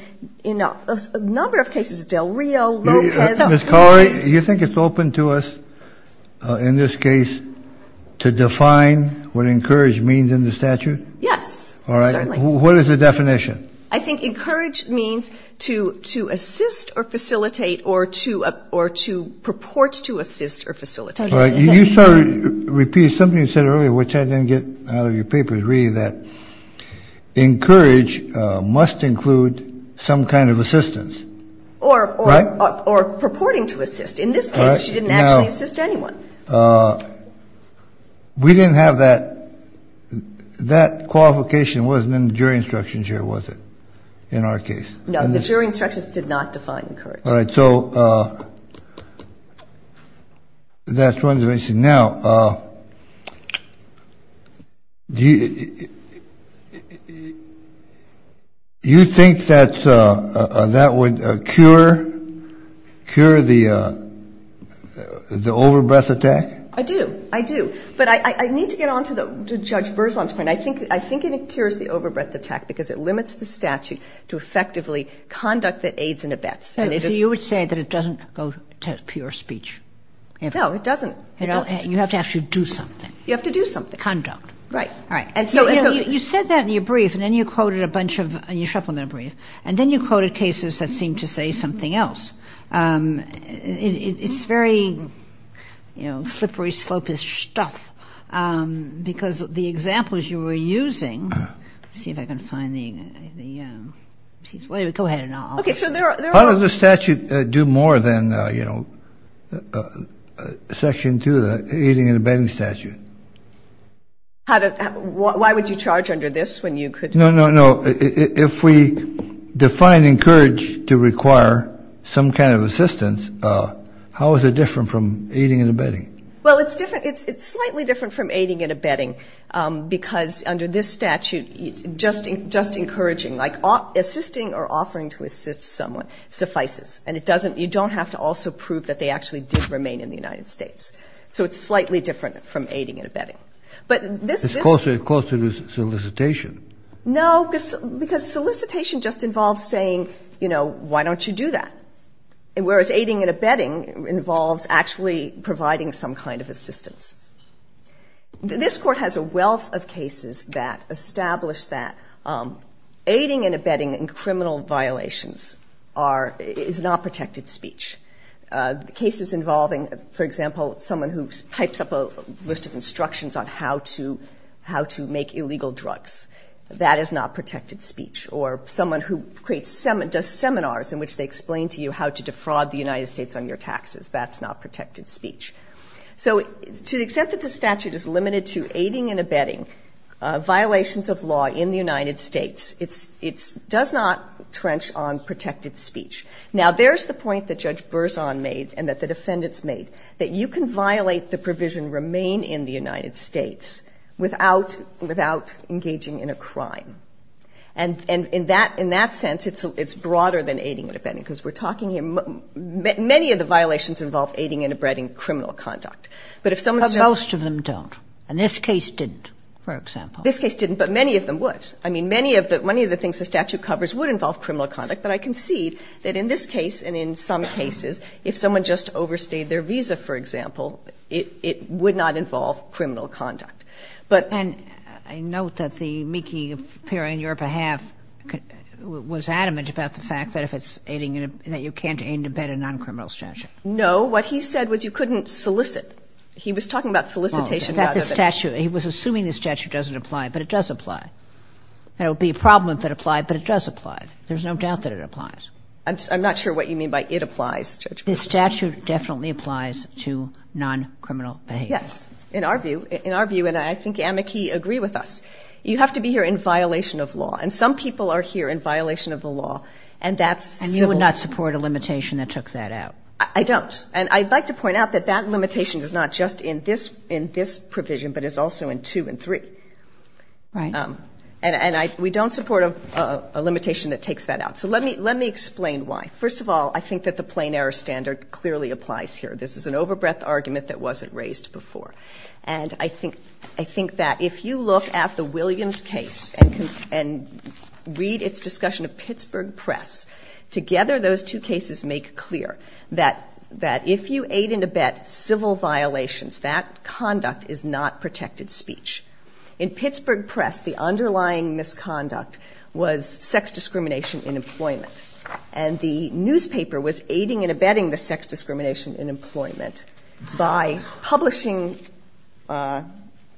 in a number of cases, Del Rio, Lopez. Ms. Collery, you think it's open to us in this case to define what encourage means in the statute? Yes. All right. What is the definition? I think encourage means to assist or facilitate or to purport to assist or facilitate. You sort of repeat something you said earlier, which I didn't get out of your papers, that encourage must include some kind of assistance. Or purporting to assist. In this case, she didn't actually assist anyone. We didn't have that. That qualification wasn't in the jury instructions here, was it, in our case? No, the jury instructions did not define encourage. All right. So that's one of the reasons. Now, you think that would cure the overbreath attack? I do. I do. But I need to get on to Judge Burr's one. I think it cures the overbreath attack because it limits the statute to effectively conduct the aids and abets. So you would say that it doesn't go to pure speech? No, it doesn't. You have to actually do something. You have to do something. Conduct. Right. All right. You said that in your brief and then you quoted a bunch of, in your supplemental brief, and then you quoted cases that seem to say something else. It's very, you know, slippery slope-ish stuff because the examples you were using, let's see if I can find the, go ahead. How does the statute do more than, you know, Section 2, the aiding and abetting statute? Why would you charge under this when you could? No, no, no. If we define encourage to require some kind of assistance, how is it different from aiding and abetting? Well, it's different. It's slightly different from aiding and abetting because under this statute, just encouraging, like assisting or offering to assist someone suffices. And it doesn't, you don't have to also prove that they actually did remain in the United States. So it's slightly different from aiding and abetting. But this is. It's closer to solicitation. No, because solicitation just involves saying, you know, why don't you do that? Whereas aiding and abetting involves actually providing some kind of assistance. This court has a wealth of cases that establish that aiding and abetting in criminal violations are, is not protected speech. Cases involving, for example, someone who types up a list of instructions on how to make illegal drugs, that is not protected speech. Or someone who creates, does seminars in which they explain to you how to defraud the United States on your taxes. That's not protected speech. So to the extent that the statute is limited to aiding and abetting violations of law in the United States, it does not trench on protected speech. Now, there's the point that Judge Berzon made and that the defendants made, that you can violate the provision remain in the United States without engaging in a crime. And in that sense, it's broader than aiding and abetting. Because we're talking here, many of the violations involve aiding and abetting criminal conduct. But if someone. But most of them don't. And this case didn't, for example. This case didn't. But many of them would. I mean, many of the things the statute covers would involve criminal conduct. But I concede that in this case and in some cases, if someone just overstayed their visa, for example, it would not involve criminal conduct. But. And I note that the amici appearing on your behalf was adamant about the fact that if it's aiding and abetting, you can't aid and abet a non-criminal statute. No. What he said was you couldn't solicit. He was talking about solicitation. He was assuming the statute doesn't apply, but it does apply. It would be a problem if it applied, but it does apply. There's no doubt that it applies. I'm not sure what you mean by it applies. The statute definitely applies to non-criminal behavior. Yes. In our view, and I think amici agree with us, you have to be here in violation of law. And some people are here in violation of the law. And that's. And you would not support a limitation that took that out. I don't. And I'd like to point out that that limitation is not just in this provision, but it's also in two and three. Right. And we don't support a limitation that takes that out. So let me explain why. First of all, I think that the plain error standard clearly applies here. This is an over-breath argument that wasn't raised before. And I think that if you look at the Williams case and read its discussion of Pittsburgh Press, together those two cases make clear that if you aid and abet civil violations, that conduct is not protected speech. In Pittsburgh Press, the underlying misconduct was sex discrimination in employment. And the newspaper was aiding and abetting the sex discrimination in employment by publishing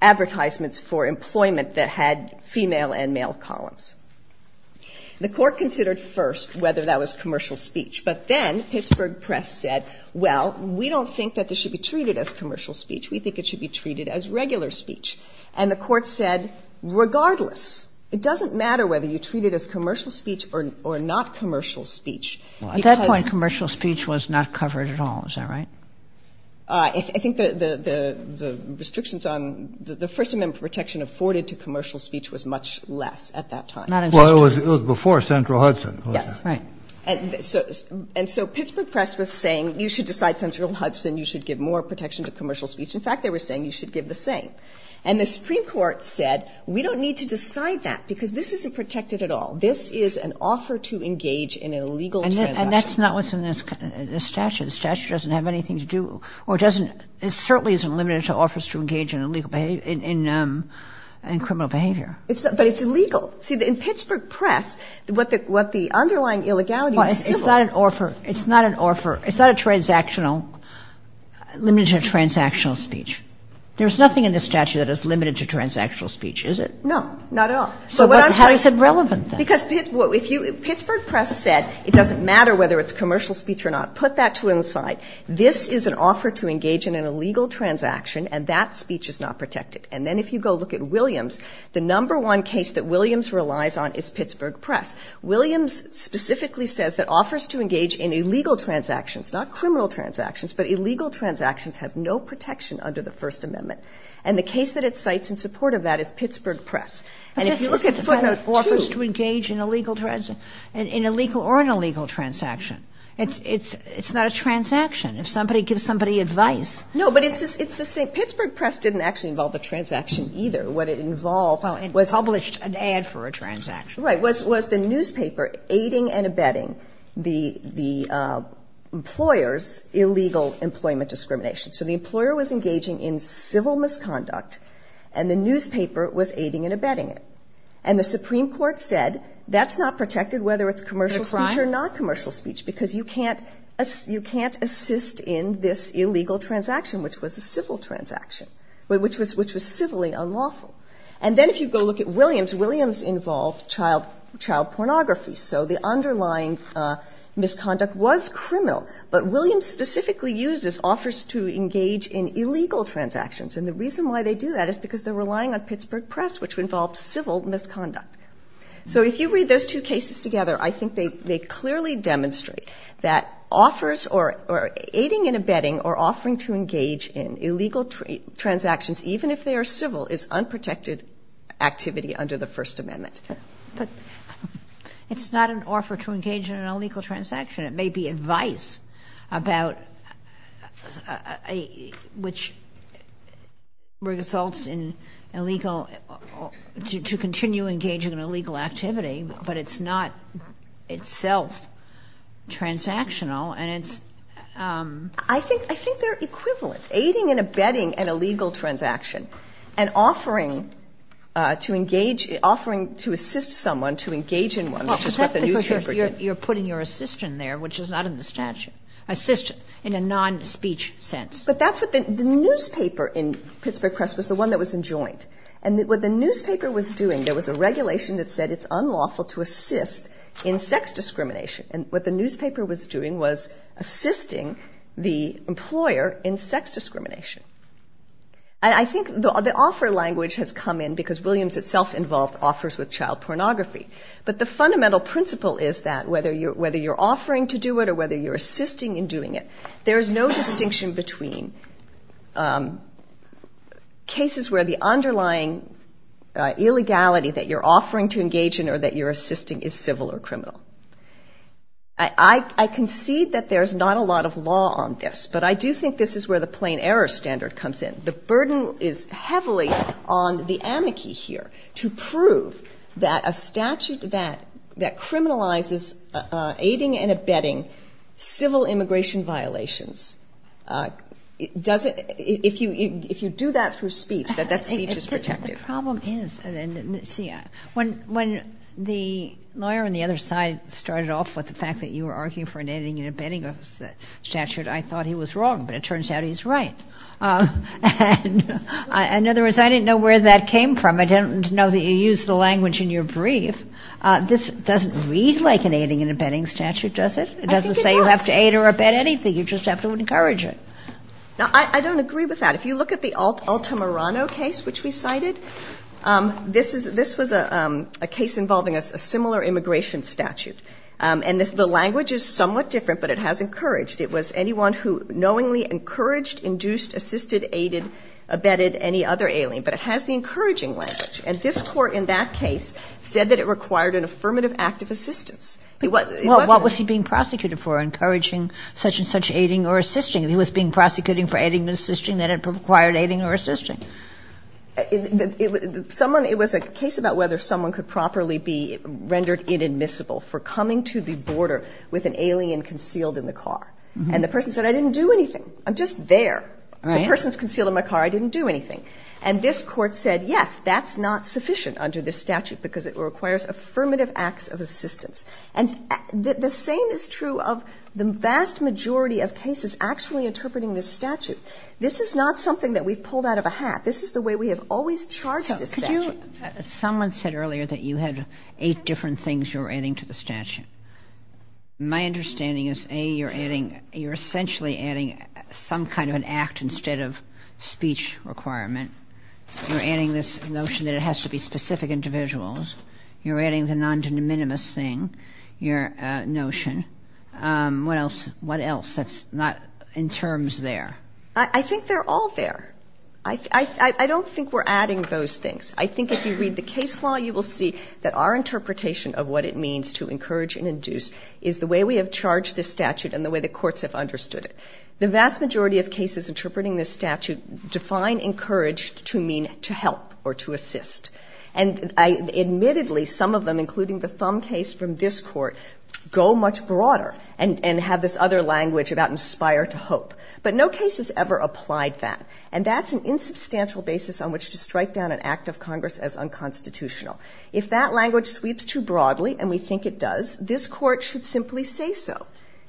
advertisements for employment that had female and male columns. The court considered first whether that was commercial speech. But then Pittsburgh Press said, well, we don't think that this should be treated as commercial speech. We think it should be treated as regular speech. And the court said, regardless. It doesn't matter whether you treat it as commercial speech or not commercial speech. At that point, commercial speech was not covered at all. Is that right? I think the restrictions on the First Amendment protection afforded to commercial speech was much less at that time. Well, it was before Central Hudson. Yes. Right. And so Pittsburgh Press was saying, you should decide Central Hudson. You should give more protection to commercial speech. In fact, they were saying you should give the same. And the Supreme Court said, we don't need to decide that because this isn't protected at all. This is an offer to engage in illegal transaction. And that's not what's in the statute. The statute doesn't have anything to do or certainly isn't limited to offers to engage in criminal behavior. But it's illegal. In Pittsburgh Press, what the underlying illegality was civil. It's not an offer. It's not a transactional, limited to transactional speech. There's nothing in the statute that is limited to transactional speech, is it? No. Not at all. So how is it relevant then? Because Pittsburgh Press said it doesn't matter whether it's commercial speech or not. Put that to one side. This is an offer to engage in an illegal transaction, and that speech is not protected. And then if you go look at Williams, the number one case that Williams relies on is Pittsburgh Press. Williams specifically says that offers to engage in illegal transactions, not criminal transactions, but illegal transactions have no protection under the First Amendment. And the case that it cites in support of that is Pittsburgh Press. And if you look at those offers to engage in illegal or an illegal transaction, it's not a transaction. If somebody gives somebody advice. No, but it's to say Pittsburgh Press didn't actually involve a transaction either. What it involved was published an ad for a transaction. Right. Was the newspaper aiding and abetting the employer's illegal employment discrimination. So the employer was engaging in civil misconduct, and the newspaper was aiding and abetting it. And the Supreme Court said that's not protected whether it's commercial speech or not commercial speech because you can't assist in this illegal transaction, which was a civil transaction, which was civilly unlawful. And then if you go look at Williams, Williams involved child pornography. So the underlying misconduct was criminal. But Williams specifically uses offers to engage in illegal transactions. And the reason why they do that is because they're relying on Pittsburgh Press, which involves civil misconduct. So if you read those two cases together, I think they clearly demonstrate that offers or aiding and abetting or offering to engage in illegal transactions, even if they are civil, is unprotected activity under the First Amendment. But it's not an offer to engage in an illegal transaction. It may be advice about which results in illegal, to continue engaging in illegal activity. But it's not itself transactional. I think they're equivalent. Aiding and abetting an illegal transaction and offering to assist someone to engage in one. You're putting your assistant there, which is not in the statute. Assistant in a non-speech sense. But the newspaper in Pittsburgh Press was the one that was enjoined. And what the newspaper was doing, there was a regulation that said it's unlawful to assist in sex discrimination. And what the newspaper was doing was assisting the employer in sex discrimination. And I think the offer language has come in because Williams itself involved offers with child pornography. But the fundamental principle is that whether you're offering to do it or whether you're assisting in doing it, there's no distinction between cases where the underlying illegality that you're offering to engage in or that you're assisting is civil or criminal. I concede that there's not a lot of law on this, but I do think this is where the plain error standard comes in. The burden is heavily on the amici here to prove that a statute that criminalizes aiding and abetting civil immigration violations, if you do that through speech, that that speech is protected. When the lawyer on the other side started off with the fact that you were arguing for an aiding and abetting statute, I thought he was wrong, but it turns out he's right. In other words, I didn't know where that came from. I didn't know that you used the language in your brief. This doesn't read like an aiding and abetting statute, does it? It doesn't say you have to aid or abet anything. You just have to encourage it. I don't agree with that. If you look at the Altamirano case, which we cited, this was a case involving a similar immigration statute. The language is somewhat different, but it has encouraged. It was anyone who knowingly encouraged, induced, assisted, aided, abetted any other alien. But it has the encouraging language, and this court in that case said that it required an affirmative act of assistance. What was he being prosecuted for, encouraging such and such aiding or assisting? He was being prosecuted for aiding and assisting that had required aiding or assisting. It was a case about whether someone could properly be rendered inadmissible for coming to the border with an alien concealed in the car. And the person said, I didn't do anything. I'm just there. The person's concealed in my car. I didn't do anything. And this court said, yes, that's not sufficient under this statute because it requires affirmative acts of assistance. And the same is true of the vast majority of cases actually interpreting this statute. This is not something that we've pulled out of a hat. This is the way we have always charged this statute. Someone said earlier that you had eight different things you were adding to the statute. My understanding is, A, you're adding, you're essentially adding some kind of an act instead of speech requirement. You're adding this notion that it has to be specific individuals. You're adding the non-de minimis thing, your notion. What else? What else that's not in terms there? I think they're all there. I don't think we're adding those things. I think if you read the case law, you will see that our interpretation of what it means to encourage and induce is the way we have charged this statute and the way the courts have understood it. The vast majority of cases interpreting this statute define encouraged to mean to help or to assist. And admittedly, some of them, including the Thumb case from this court, go much broader and have this other language about inspire to hope. But no case has ever applied that. And that's an insubstantial basis on which to strike down an act of Congress as unconstitutional. If that language sweeps too broadly, and we think it does, this court should simply say so.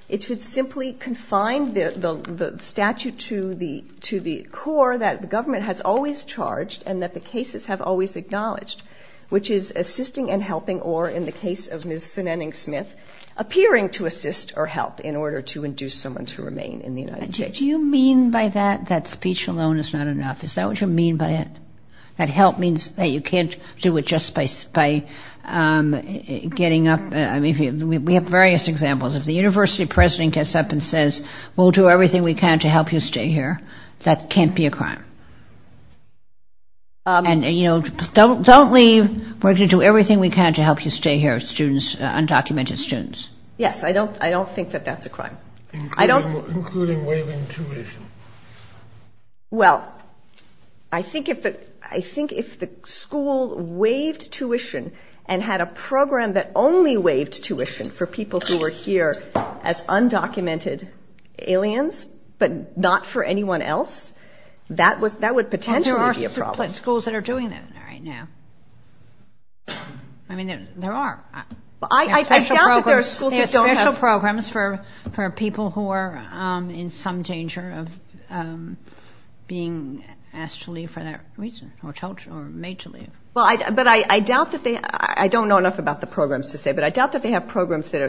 It should simply confine the statute to the core that the government has always charged and that the cases have always acknowledged, which is assisting and helping or, in the case of Ms. Smith, appearing to assist or help in order to induce someone to remain in the United States. Do you mean by that that speech alone is not enough? Is that what you mean by it? That help means that you can't do it just by getting up. We have various examples. If the university president gets up and says, we'll do everything we can to help you stay here, that can't be a crime. And don't leave. We're going to do everything we can to help you stay here, undocumented students. Yes, I don't think that that's a crime. Including waiving tuition. Well, I think if the school waived tuition and had a program that only waived tuition for people who were here as undocumented aliens, but not for anyone else, that would potentially be a problem. And there are schools that are doing that right now. I mean, there are. I doubt that there are special programs for people who are in some danger of being asked to leave for that reason or told or made to leave. But I doubt that they, I don't know enough about the programs to say, but I doubt that they have programs that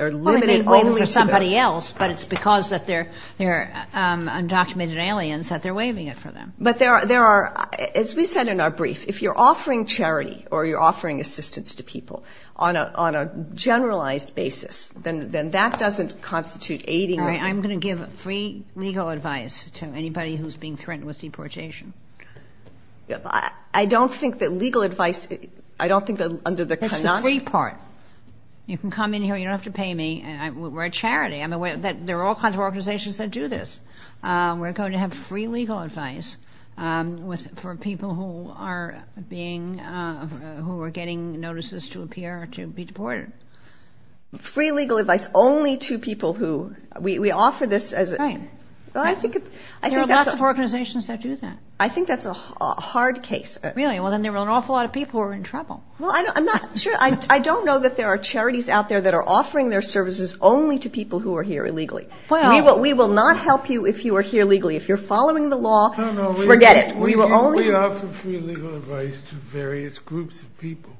are limited only to somebody else, but it's because they're undocumented aliens that they're waiving it for them. But there are, as we said in our brief, if you're offering charity or you're offering assistance to people on a generalized basis, then that doesn't constitute aiding them. I'm going to give free legal advice to anybody who's being threatened with deportation. I don't think that legal advice, I don't think that under the conundrum. It's a free part. You can come in here, you don't have to pay me. We're a charity. There are all kinds of organizations that do this. We're going to have free legal advice for people who are being, who are getting notices to appear or can be deported. Free legal advice only to people who, we offer this as a. There are lots of organizations that do that. I think that's a hard case. Really? Well, then there are an awful lot of people who are in trouble. Well, I'm not sure. I don't know that there are charities out there that are offering their services only to people who are here illegally. We will not help you if you are here illegally. If you're following the law, forget it. We only offer free legal advice to various groups of people.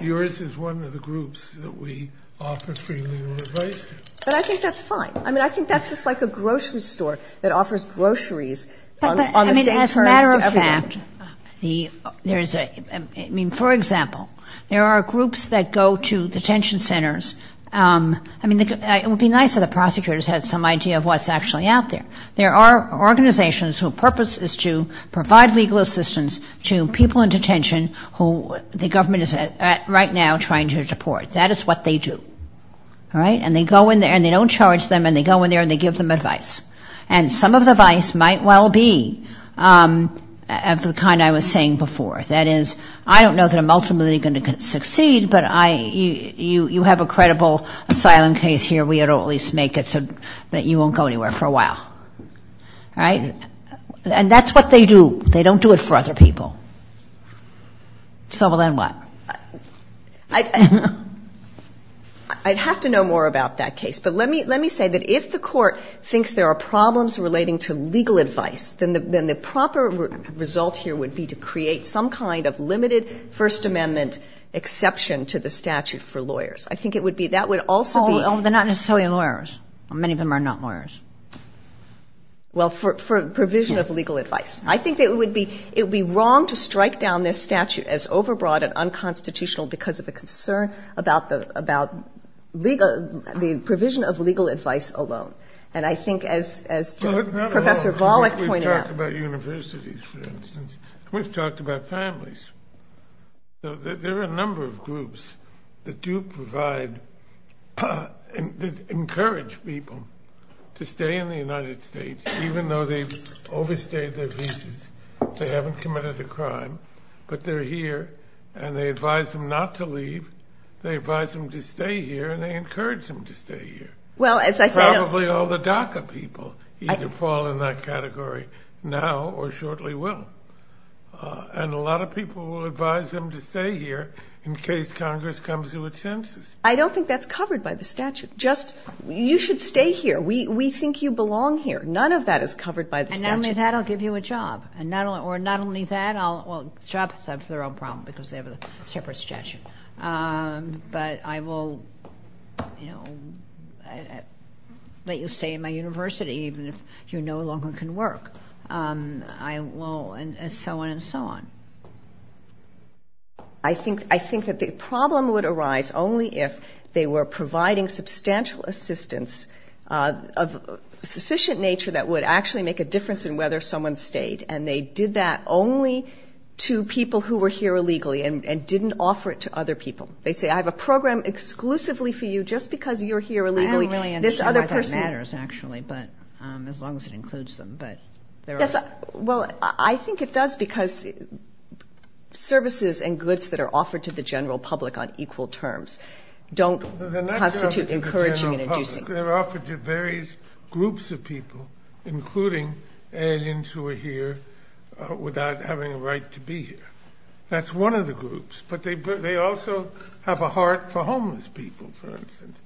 Yours is one of the groups that we offer free legal advice to. I think that's fine. I think that's just like a grocery store that offers groceries. As a matter of fact, for example, there are groups that go to detention centers. I mean, it would be nice if the prosecutors had some idea of what's actually out there. There are organizations whose purpose is to provide legal assistance to people in detention who the government is right now trying to deport. That is what they do. All right? And they go in there and they don't charge them and they go in there and they give them advice. And some of the advice might well be of the kind I was saying before. That is, I don't know that I'm ultimately going to succeed, but you have a credible asylum case here. We at least make it so that you won't go anywhere for a while. All right? And that's what they do. They don't do it for other people. So then what? I'd have to know more about that case. But let me say that if the court thinks there are problems relating to legal advice, then the proper result here would be to create some kind of limited First Amendment exception to the statute for lawyers. I think it would be, that would also be... Oh, but not necessarily lawyers. Many of them are not lawyers. Well, for provision of legal advice. I think it would be wrong to strike down this statute as overbroad and unconstitutional because of the concern about the provision of legal advice alone. And I think as Professor Volokh pointed out... We've talked about universities, for instance. We've talked about families. There are a number of groups that do provide, that encourage people to stay in the United States, even though they've overstayed their visas, they haven't committed a crime, but they're here, and they advise them not to leave, they advise them to stay here, and they encourage them to stay here. Probably all the DACA people either fall in that category now or shortly will. And a lot of people will advise them to stay here in case Congress comes to its senses. I don't think that's covered by the statute. Just, you should stay here. We think you belong here. None of that is covered by the statute. And not only that, I'll give you a job. And not only that, I'll... Well, jobs, that's their own problem because they have a separate statute. But I will, you know, let you stay in my university even if you no longer can work. I will, and so on and so on. I think that the problem would arise only if they were providing substantial assistance of sufficient nature that would actually make a difference in whether someone stayed. And they did that only to people who were here illegally and didn't offer it to other people. They say, I have a program exclusively for you just because you're here illegally. I don't really understand why that matters, actually, as long as it includes them. Yes, well, I think it does because services and goods that are offered to the general public on equal terms don't constitute encouraging and inducing. They're offered to various groups of people, including aliens who are here without having a right to be here. That's one of the groups. But they also have a heart for homeless people, for instance,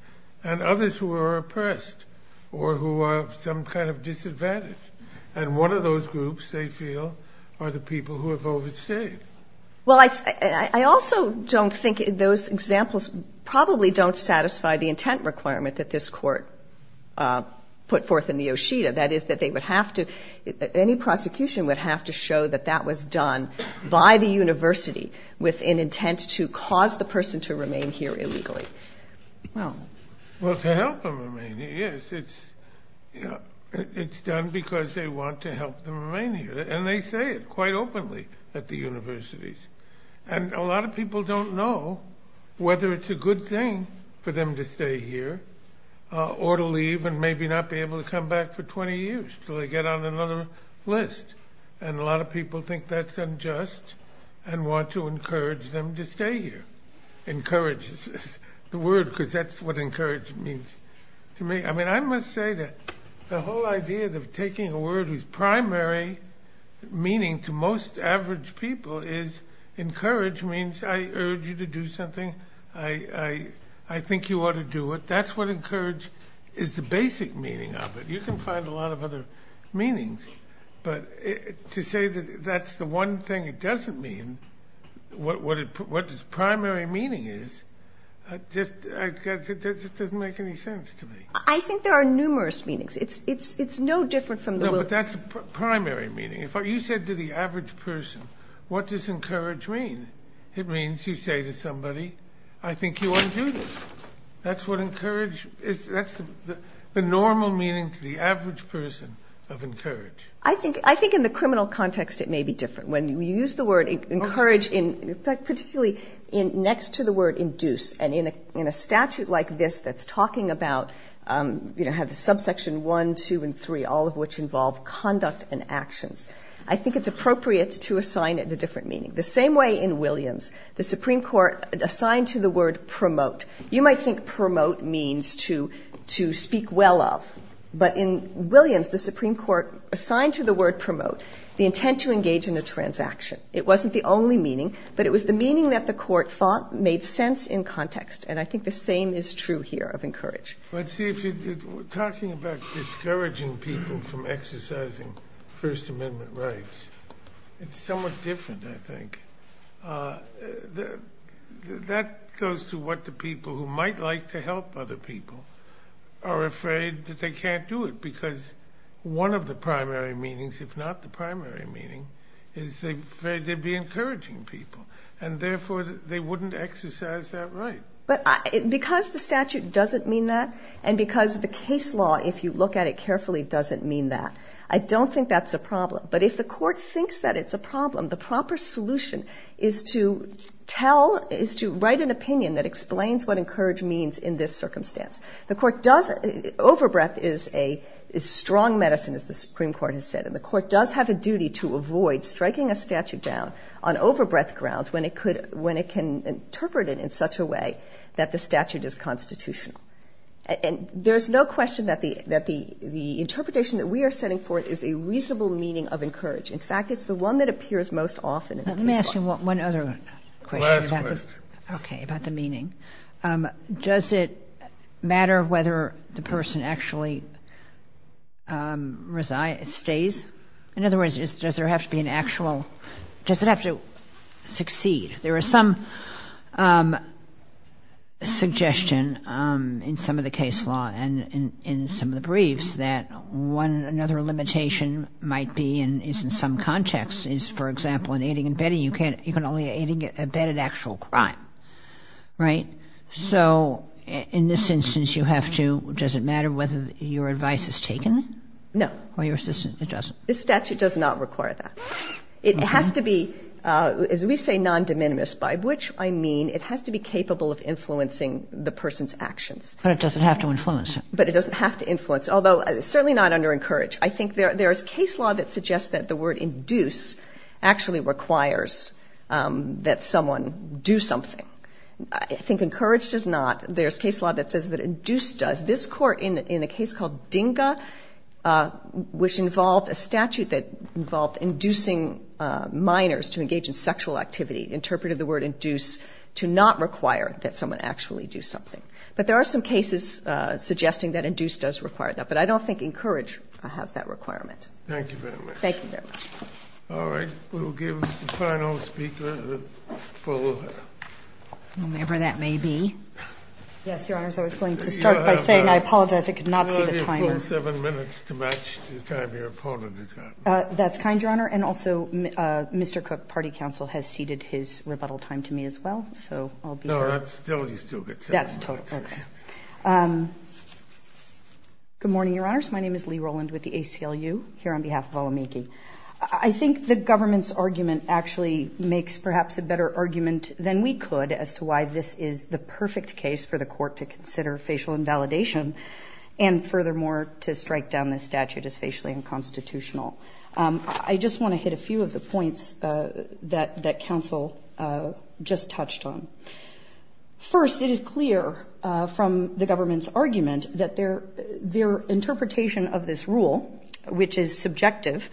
and others who are oppressed or who are of some kind of disadvantage. And one of those groups, they feel, are the people who have overstayed. Well, I also don't think those examples probably don't satisfy the intent requirement that this court put forth in the OSHEDA. That is that they would have to, any prosecution would have to show that that was done by the university with an intent to cause the person to remain here illegally. Well, to help them remain here, yes. It's done because they want to help them remain here. And they say it quite openly at the universities. And a lot of people don't know whether it's a good thing for them to stay here or to leave and maybe not be able to come back for 20 years until they get on another list. And a lot of people think that's unjust and want to encourage them to stay here. Encourage is the word because that's what encourage means to me. I mean, I must say that the whole idea of taking a word whose primary meaning to most average people is encourage means I urge you to do something, I think you ought to do it. That's what encourage is the basic meaning of it. You can find a lot of other meanings. But to say that that's the one thing it doesn't mean, what its primary meaning is, just doesn't make any sense to me. I think there are numerous meanings. It's no different from the word. No, but that's the primary meaning. You said to the average person, what does encourage mean? It means you say to somebody, I think you ought to do this. That's what encourage is. That's the normal meaning to the average person of encourage. I think in the criminal context it may be different. When we use the word encourage, particularly next to the word induce, and in a statute like this that's talking about, you know, have the subsection 1, 2, and 3, all of which involve conduct and action. I think it's appropriate to assign it a different meaning. The same way in Williams, the Supreme Court assigned to the word promote. You might think promote means to speak well of. But in Williams, the Supreme Court assigned to the word promote the intent to engage in a transaction. It wasn't the only meaning, but it was the meaning that the court thought made sense in context. And I think the same is true here of encourage. But see, if you're talking about discouraging people from exercising First Amendment rights, it's somewhat different, I think. That goes to what the people who might like to help other people are afraid that they can't do it, because one of the primary meanings, if not the primary meaning, is they'd be encouraging people. And therefore, they wouldn't exercise that right. But because the statute doesn't mean that, and because the case law, if you look at it carefully, doesn't mean that, I don't think that's a problem. But if the court thinks that it's a problem, the proper solution is to write an opinion that explains what encourage means in this circumstance. Overbreadth is strong medicine, as the Supreme Court has said. And the court does have a duty to avoid striking a statute down on overbreadth grounds when it can interpret it in such a way that the statute is constitutional. And there's no question that the interpretation that we are setting forth is a reasonable meaning of encourage. In fact, it's the one that appears most often. Let me ask you one other question. Last question. Okay, about the meaning. Does it matter whether the person actually stays? In other words, does there have to be an actual – does it have to succeed? There is some suggestion in some of the case law and in some of the briefs that another limitation might be in some context. For example, in aiding and abetting, you can only aid and abet an actual crime, right? So in this instance, you have to – does it matter whether your advice is taken? No. It doesn't. The statute does not require that. It has to be, as we say, non-de minimis, by which I mean it has to be capable of influencing the person's actions. But it doesn't have to influence. But it doesn't have to influence, although certainly not under encourage. I think there is case law that suggests that the word induce actually requires that someone do something. I think encourage does not. There's case law that says that induce does. This court in a case called DINGA, which involved a statute that involved inducing minors to engage in sexual activity, interpreted the word induce to not require that someone actually do something. But there are some cases suggesting that induce does require that. But I don't think encourage has that requirement. Thank you very much. Thank you very much. All right. We will give the final speaker the floor. Whomever that may be. Yes, Your Honor. I was going to start by saying I apologize. It could not be this fine. You only have 27 minutes to match the time your opponent has got. That's kind, Your Honor. And also Mr. Cook, party counsel, has ceded his rebuttal time to me as well. So I'll be here. No, that's still good. That's totally fine. Okay. Good morning, Your Honors. My name is Lee Roland with the ACLU here on behalf of Alamiki. I think the government's argument actually makes perhaps a better argument than we could as to why this is the perfect case for the court to consider facial invalidation and furthermore to strike down the statute as facially unconstitutional. I just want to hit a few of the points that counsel just touched on. First, it is clear from the government's argument that their interpretation of this rule, which is subjective,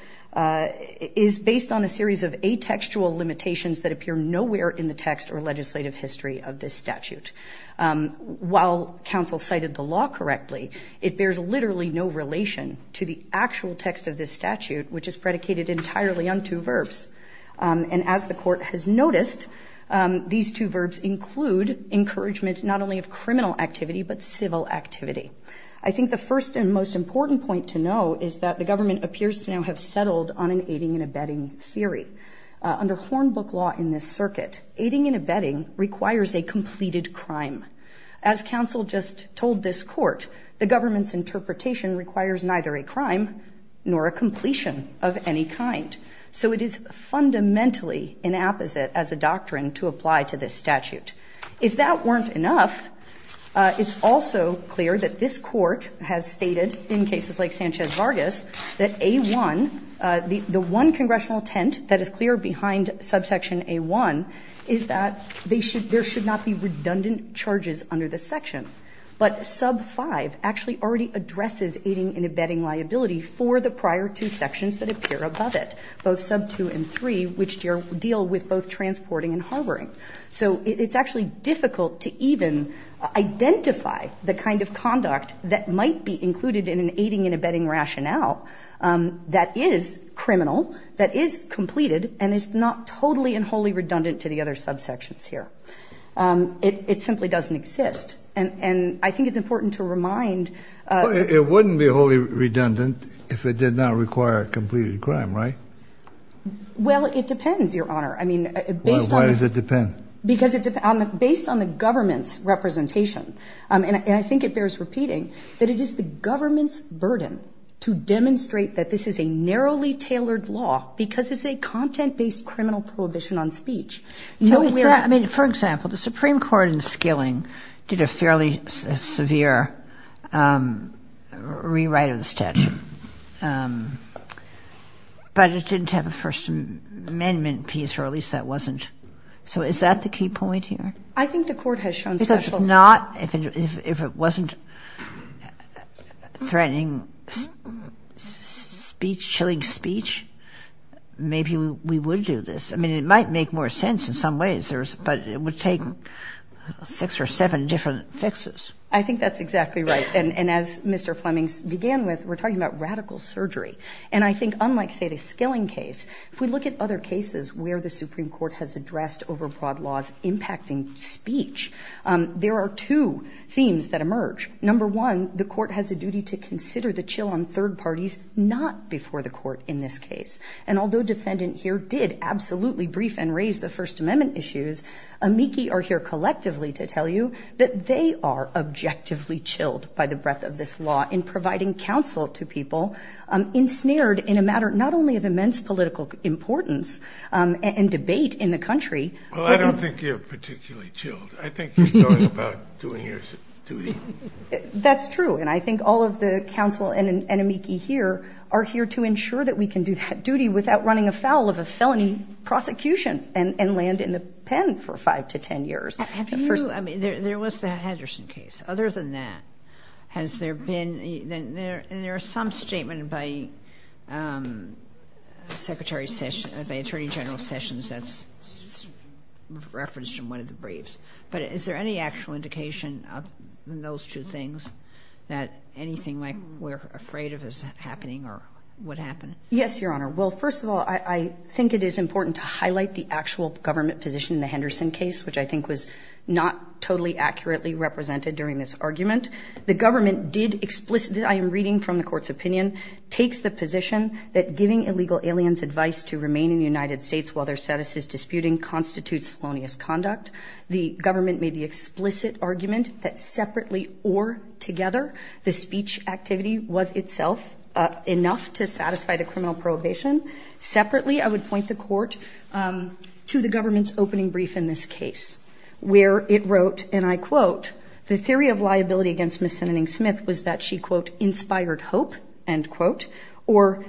is based on a series of atextual limitations that appear nowhere in the text or legislative history of this statute. While counsel cited the law correctly, it bears literally no relation to the actual text of this statute, which is predicated entirely on two verbs. And as the court has noticed, these two verbs include encouragements not only of criminal activity but civil activity. I think the first and most important point to note is that the government appears to now have settled on an aiding and abetting theory. Under Hornbook law in this circuit, aiding and abetting requires a completed crime. As counsel just told this court, the government's interpretation requires neither a crime nor a completion of any kind. So it is fundamentally an apposite as a doctrine to apply to this statute. If that weren't enough, it's also clear that this court has stated in cases like Sanchez-Vargas that the one congressional intent that is clear behind subsection A1 is that there should not be redundant charges under this section. But sub 5 actually already addresses aiding and abetting liability for the prior two sections that appear above it, so it's actually difficult to even identify the kind of conduct that might be included in an aiding and abetting rationale that is criminal, that is completed, and is not totally and wholly redundant to the other subsections here. It simply doesn't exist. And I think it's important to remind... It wouldn't be wholly redundant if it did not require a completed crime, right? Well, it depends, Your Honor. Why does it depend? Because it's based on the government's representation. And I think it bears repeating that it is the government's burden to demonstrate that this is a narrowly tailored law because it's a content-based criminal prohibition on speech. For example, the Supreme Court in Skilling did a fairly severe rewrite of the statute, but it didn't have a First Amendment piece, or at least that wasn't... So is that the key point here? I think the court has shown... If it wasn't threatening speech, chilling speech, maybe we would do this. I mean, it might make more sense in some ways, but it would take six or seven different fixes. I think that's exactly right. And as Mr. Fleming began with, we're talking about radical surgery. And I think unlike, say, the Skilling case, if we look at other cases where the Supreme Court has addressed overbroad laws impacting speech, there are two themes that emerge. Number one, the court has a duty to consider the chill on third parties not before the court in this case. And although defendant here did absolutely brief and raise the First Amendment issues, amici are here collectively to tell you that they are objectively chilled by the breadth of this law in providing counsel to people ensnared in a matter not only of immense political importance and debate in the country... I don't think you're particularly chilled. I think you're talking about doing your duty. That's true, and I think all of the counsel and amici here are here to ensure that we can do that duty without running afoul of a felony prosecution and land in the pen for five to ten years. Have you... I mean, there was the Henderson case. Other than that, has there been... And there is some statement by Secretary... by Attorney General Sessions that's referenced in one of the briefs. But is there any actual indication in those two things that anything like we're afraid of is happening or would happen? Yes, Your Honor. Well, first of all, I think it is important to highlight the actual government position in the Henderson case, which I think was not totally accurately represented during this argument. The government did explicitly... I am reading from the court's opinion, takes the position that giving illegal aliens advice to remain in the United States while their status is disputed constitutes slowness conduct. The government made the explicit argument that separately or together, the speech activity was itself enough to satisfy the criminal prohibition. Separately, I would point the court to the government's opening brief in this case, where it wrote, and I quote, the theory of liability against Ms. Simoning-Smith was that she, quote, inspired hope, end quote, or,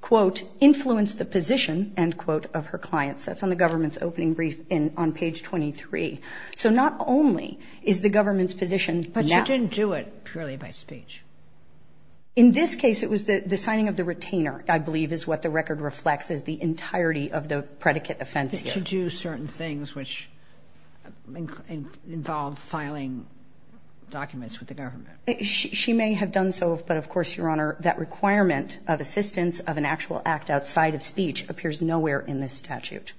quote, influenced the position, end quote, of her clients. That's on the government's opening brief on page 23. So not only is the government's position... But she didn't do it purely by speech. In this case, it was the signing of the retainer, I believe, which is what the record reflects, is the entirety of the predicate offense. Did she do certain things which involved filing documents with the government? She may have done so, but of course, Your Honour, that requirement of assistance of an actual act outside of speech appears nowhere in this statute.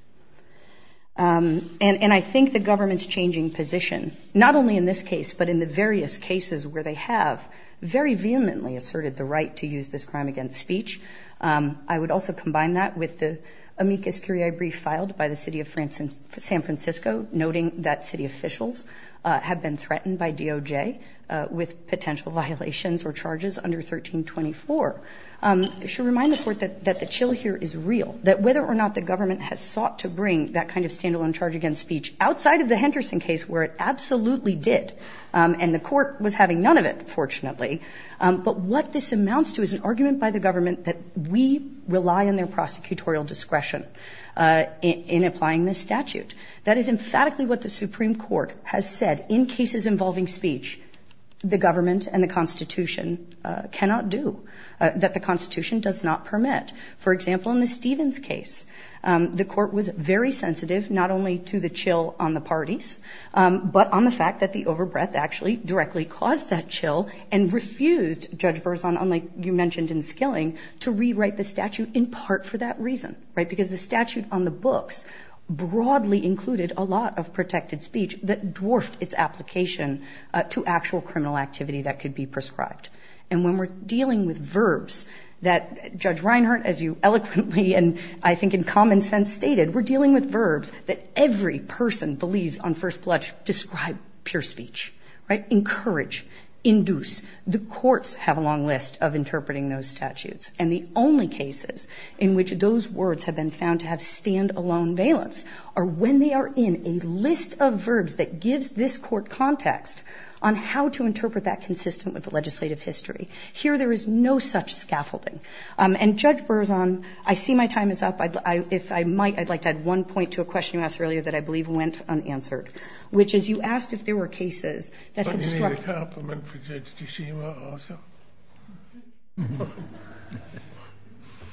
And I think the government's changing position, not only in this case, but in the various cases where they have, very vehemently asserted the right to use this crime against speech. I would also combine that with the amicus curiae brief filed by the city of San Francisco, noting that city officials have been threatened by DOJ with potential violations or charges under 1324. She reminded the court that the chill here is real, that whether or not the government has sought to bring that kind of stand-alone charge against speech outside of the Henderson case, where it absolutely did, and the court was having none of it, fortunately, but what this amounts to is an argument by the government that we rely on their prosecutorial discretion in applying this statute. That is, in fact, what the Supreme Court has said in cases involving speech, the government and the Constitution cannot do, that the Constitution does not permit. For example, in the Stevens case, the court was very sensitive, not only to the chill on the parties, but on the fact that the over-breath actually directly caused that chill and refused Judge Berzon, like you mentioned in Skilling, to rewrite the statute in part for that reason. Because the statute on the books broadly included a lot of protected speech that dwarfed its application to actual criminal activity that could be prescribed. And when we're dealing with verbs that Judge Reinhart, as you eloquently, and I think in common sense, stated, we're dealing with verbs that every person believes on first blush describe pure speech, right? Encourage, induce. The courts have a long list of interpreting those statutes. And the only cases in which those words have been found to have stand-alone valence are when they are in a list of verbs that gives this court context on how to interpret that consistent with the legislative history. Here, there is no such scaffolding. And Judge Berzon, I see my time is up. If I might, I'd like to add one point to a question you asked earlier that I believe went unanswered. Which is, you asked if there were cases...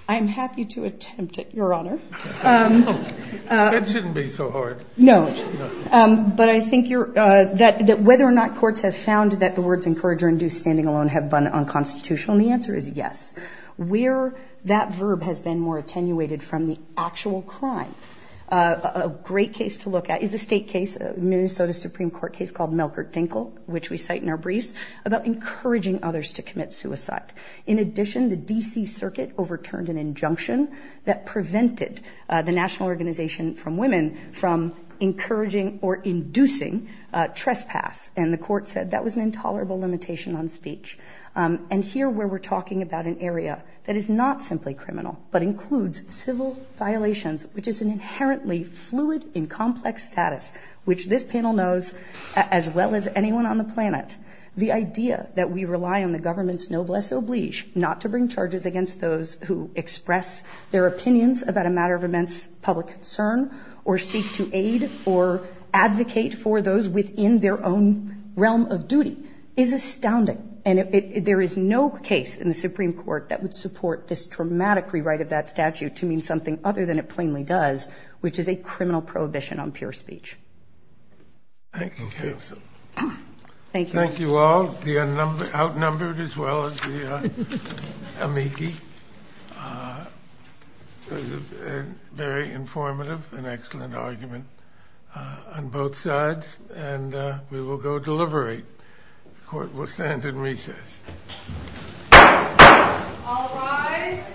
I'm happy to attempt it, Your Honor. That shouldn't be so hard. No. But I think that whether or not courts have found that the words encourage or induce stand-alone have been unconstitutional, and the answer is yes. Where that verb has been more attenuated from the actual crime, a great case to look at is a state case, a Minnesota Supreme Court case called Melker-Dinkel, which we cite in our brief, about encouraging others to commit suicide. In addition, the D.C. Circuit overturned an injunction that prevented the National Organization for Women from encouraging or inducing trespass. And the court said that was an intolerable limitation on speech. And here, where we're talking about an area that is not simply criminal, but includes civil violations, which is an inherently fluid and complex status, which this panel knows as well as anyone on the planet, the idea that we rely on the government's noblesse oblige not to bring charges against those who express their opinions about a matter of immense public concern or seek to aid or advocate for those within their own realm of duty is astounding. And there is no case in the Supreme Court that would support this traumatic rewrite of that statute to mean something other than it plainly does, which is a criminal prohibition on pure speech. Thank you, Kirsten. Thank you. Thank you all, the outnumbered as well as the amici. Very informative, an excellent argument on both sides. And we will go to delivery. The court will stand in recess. All rise.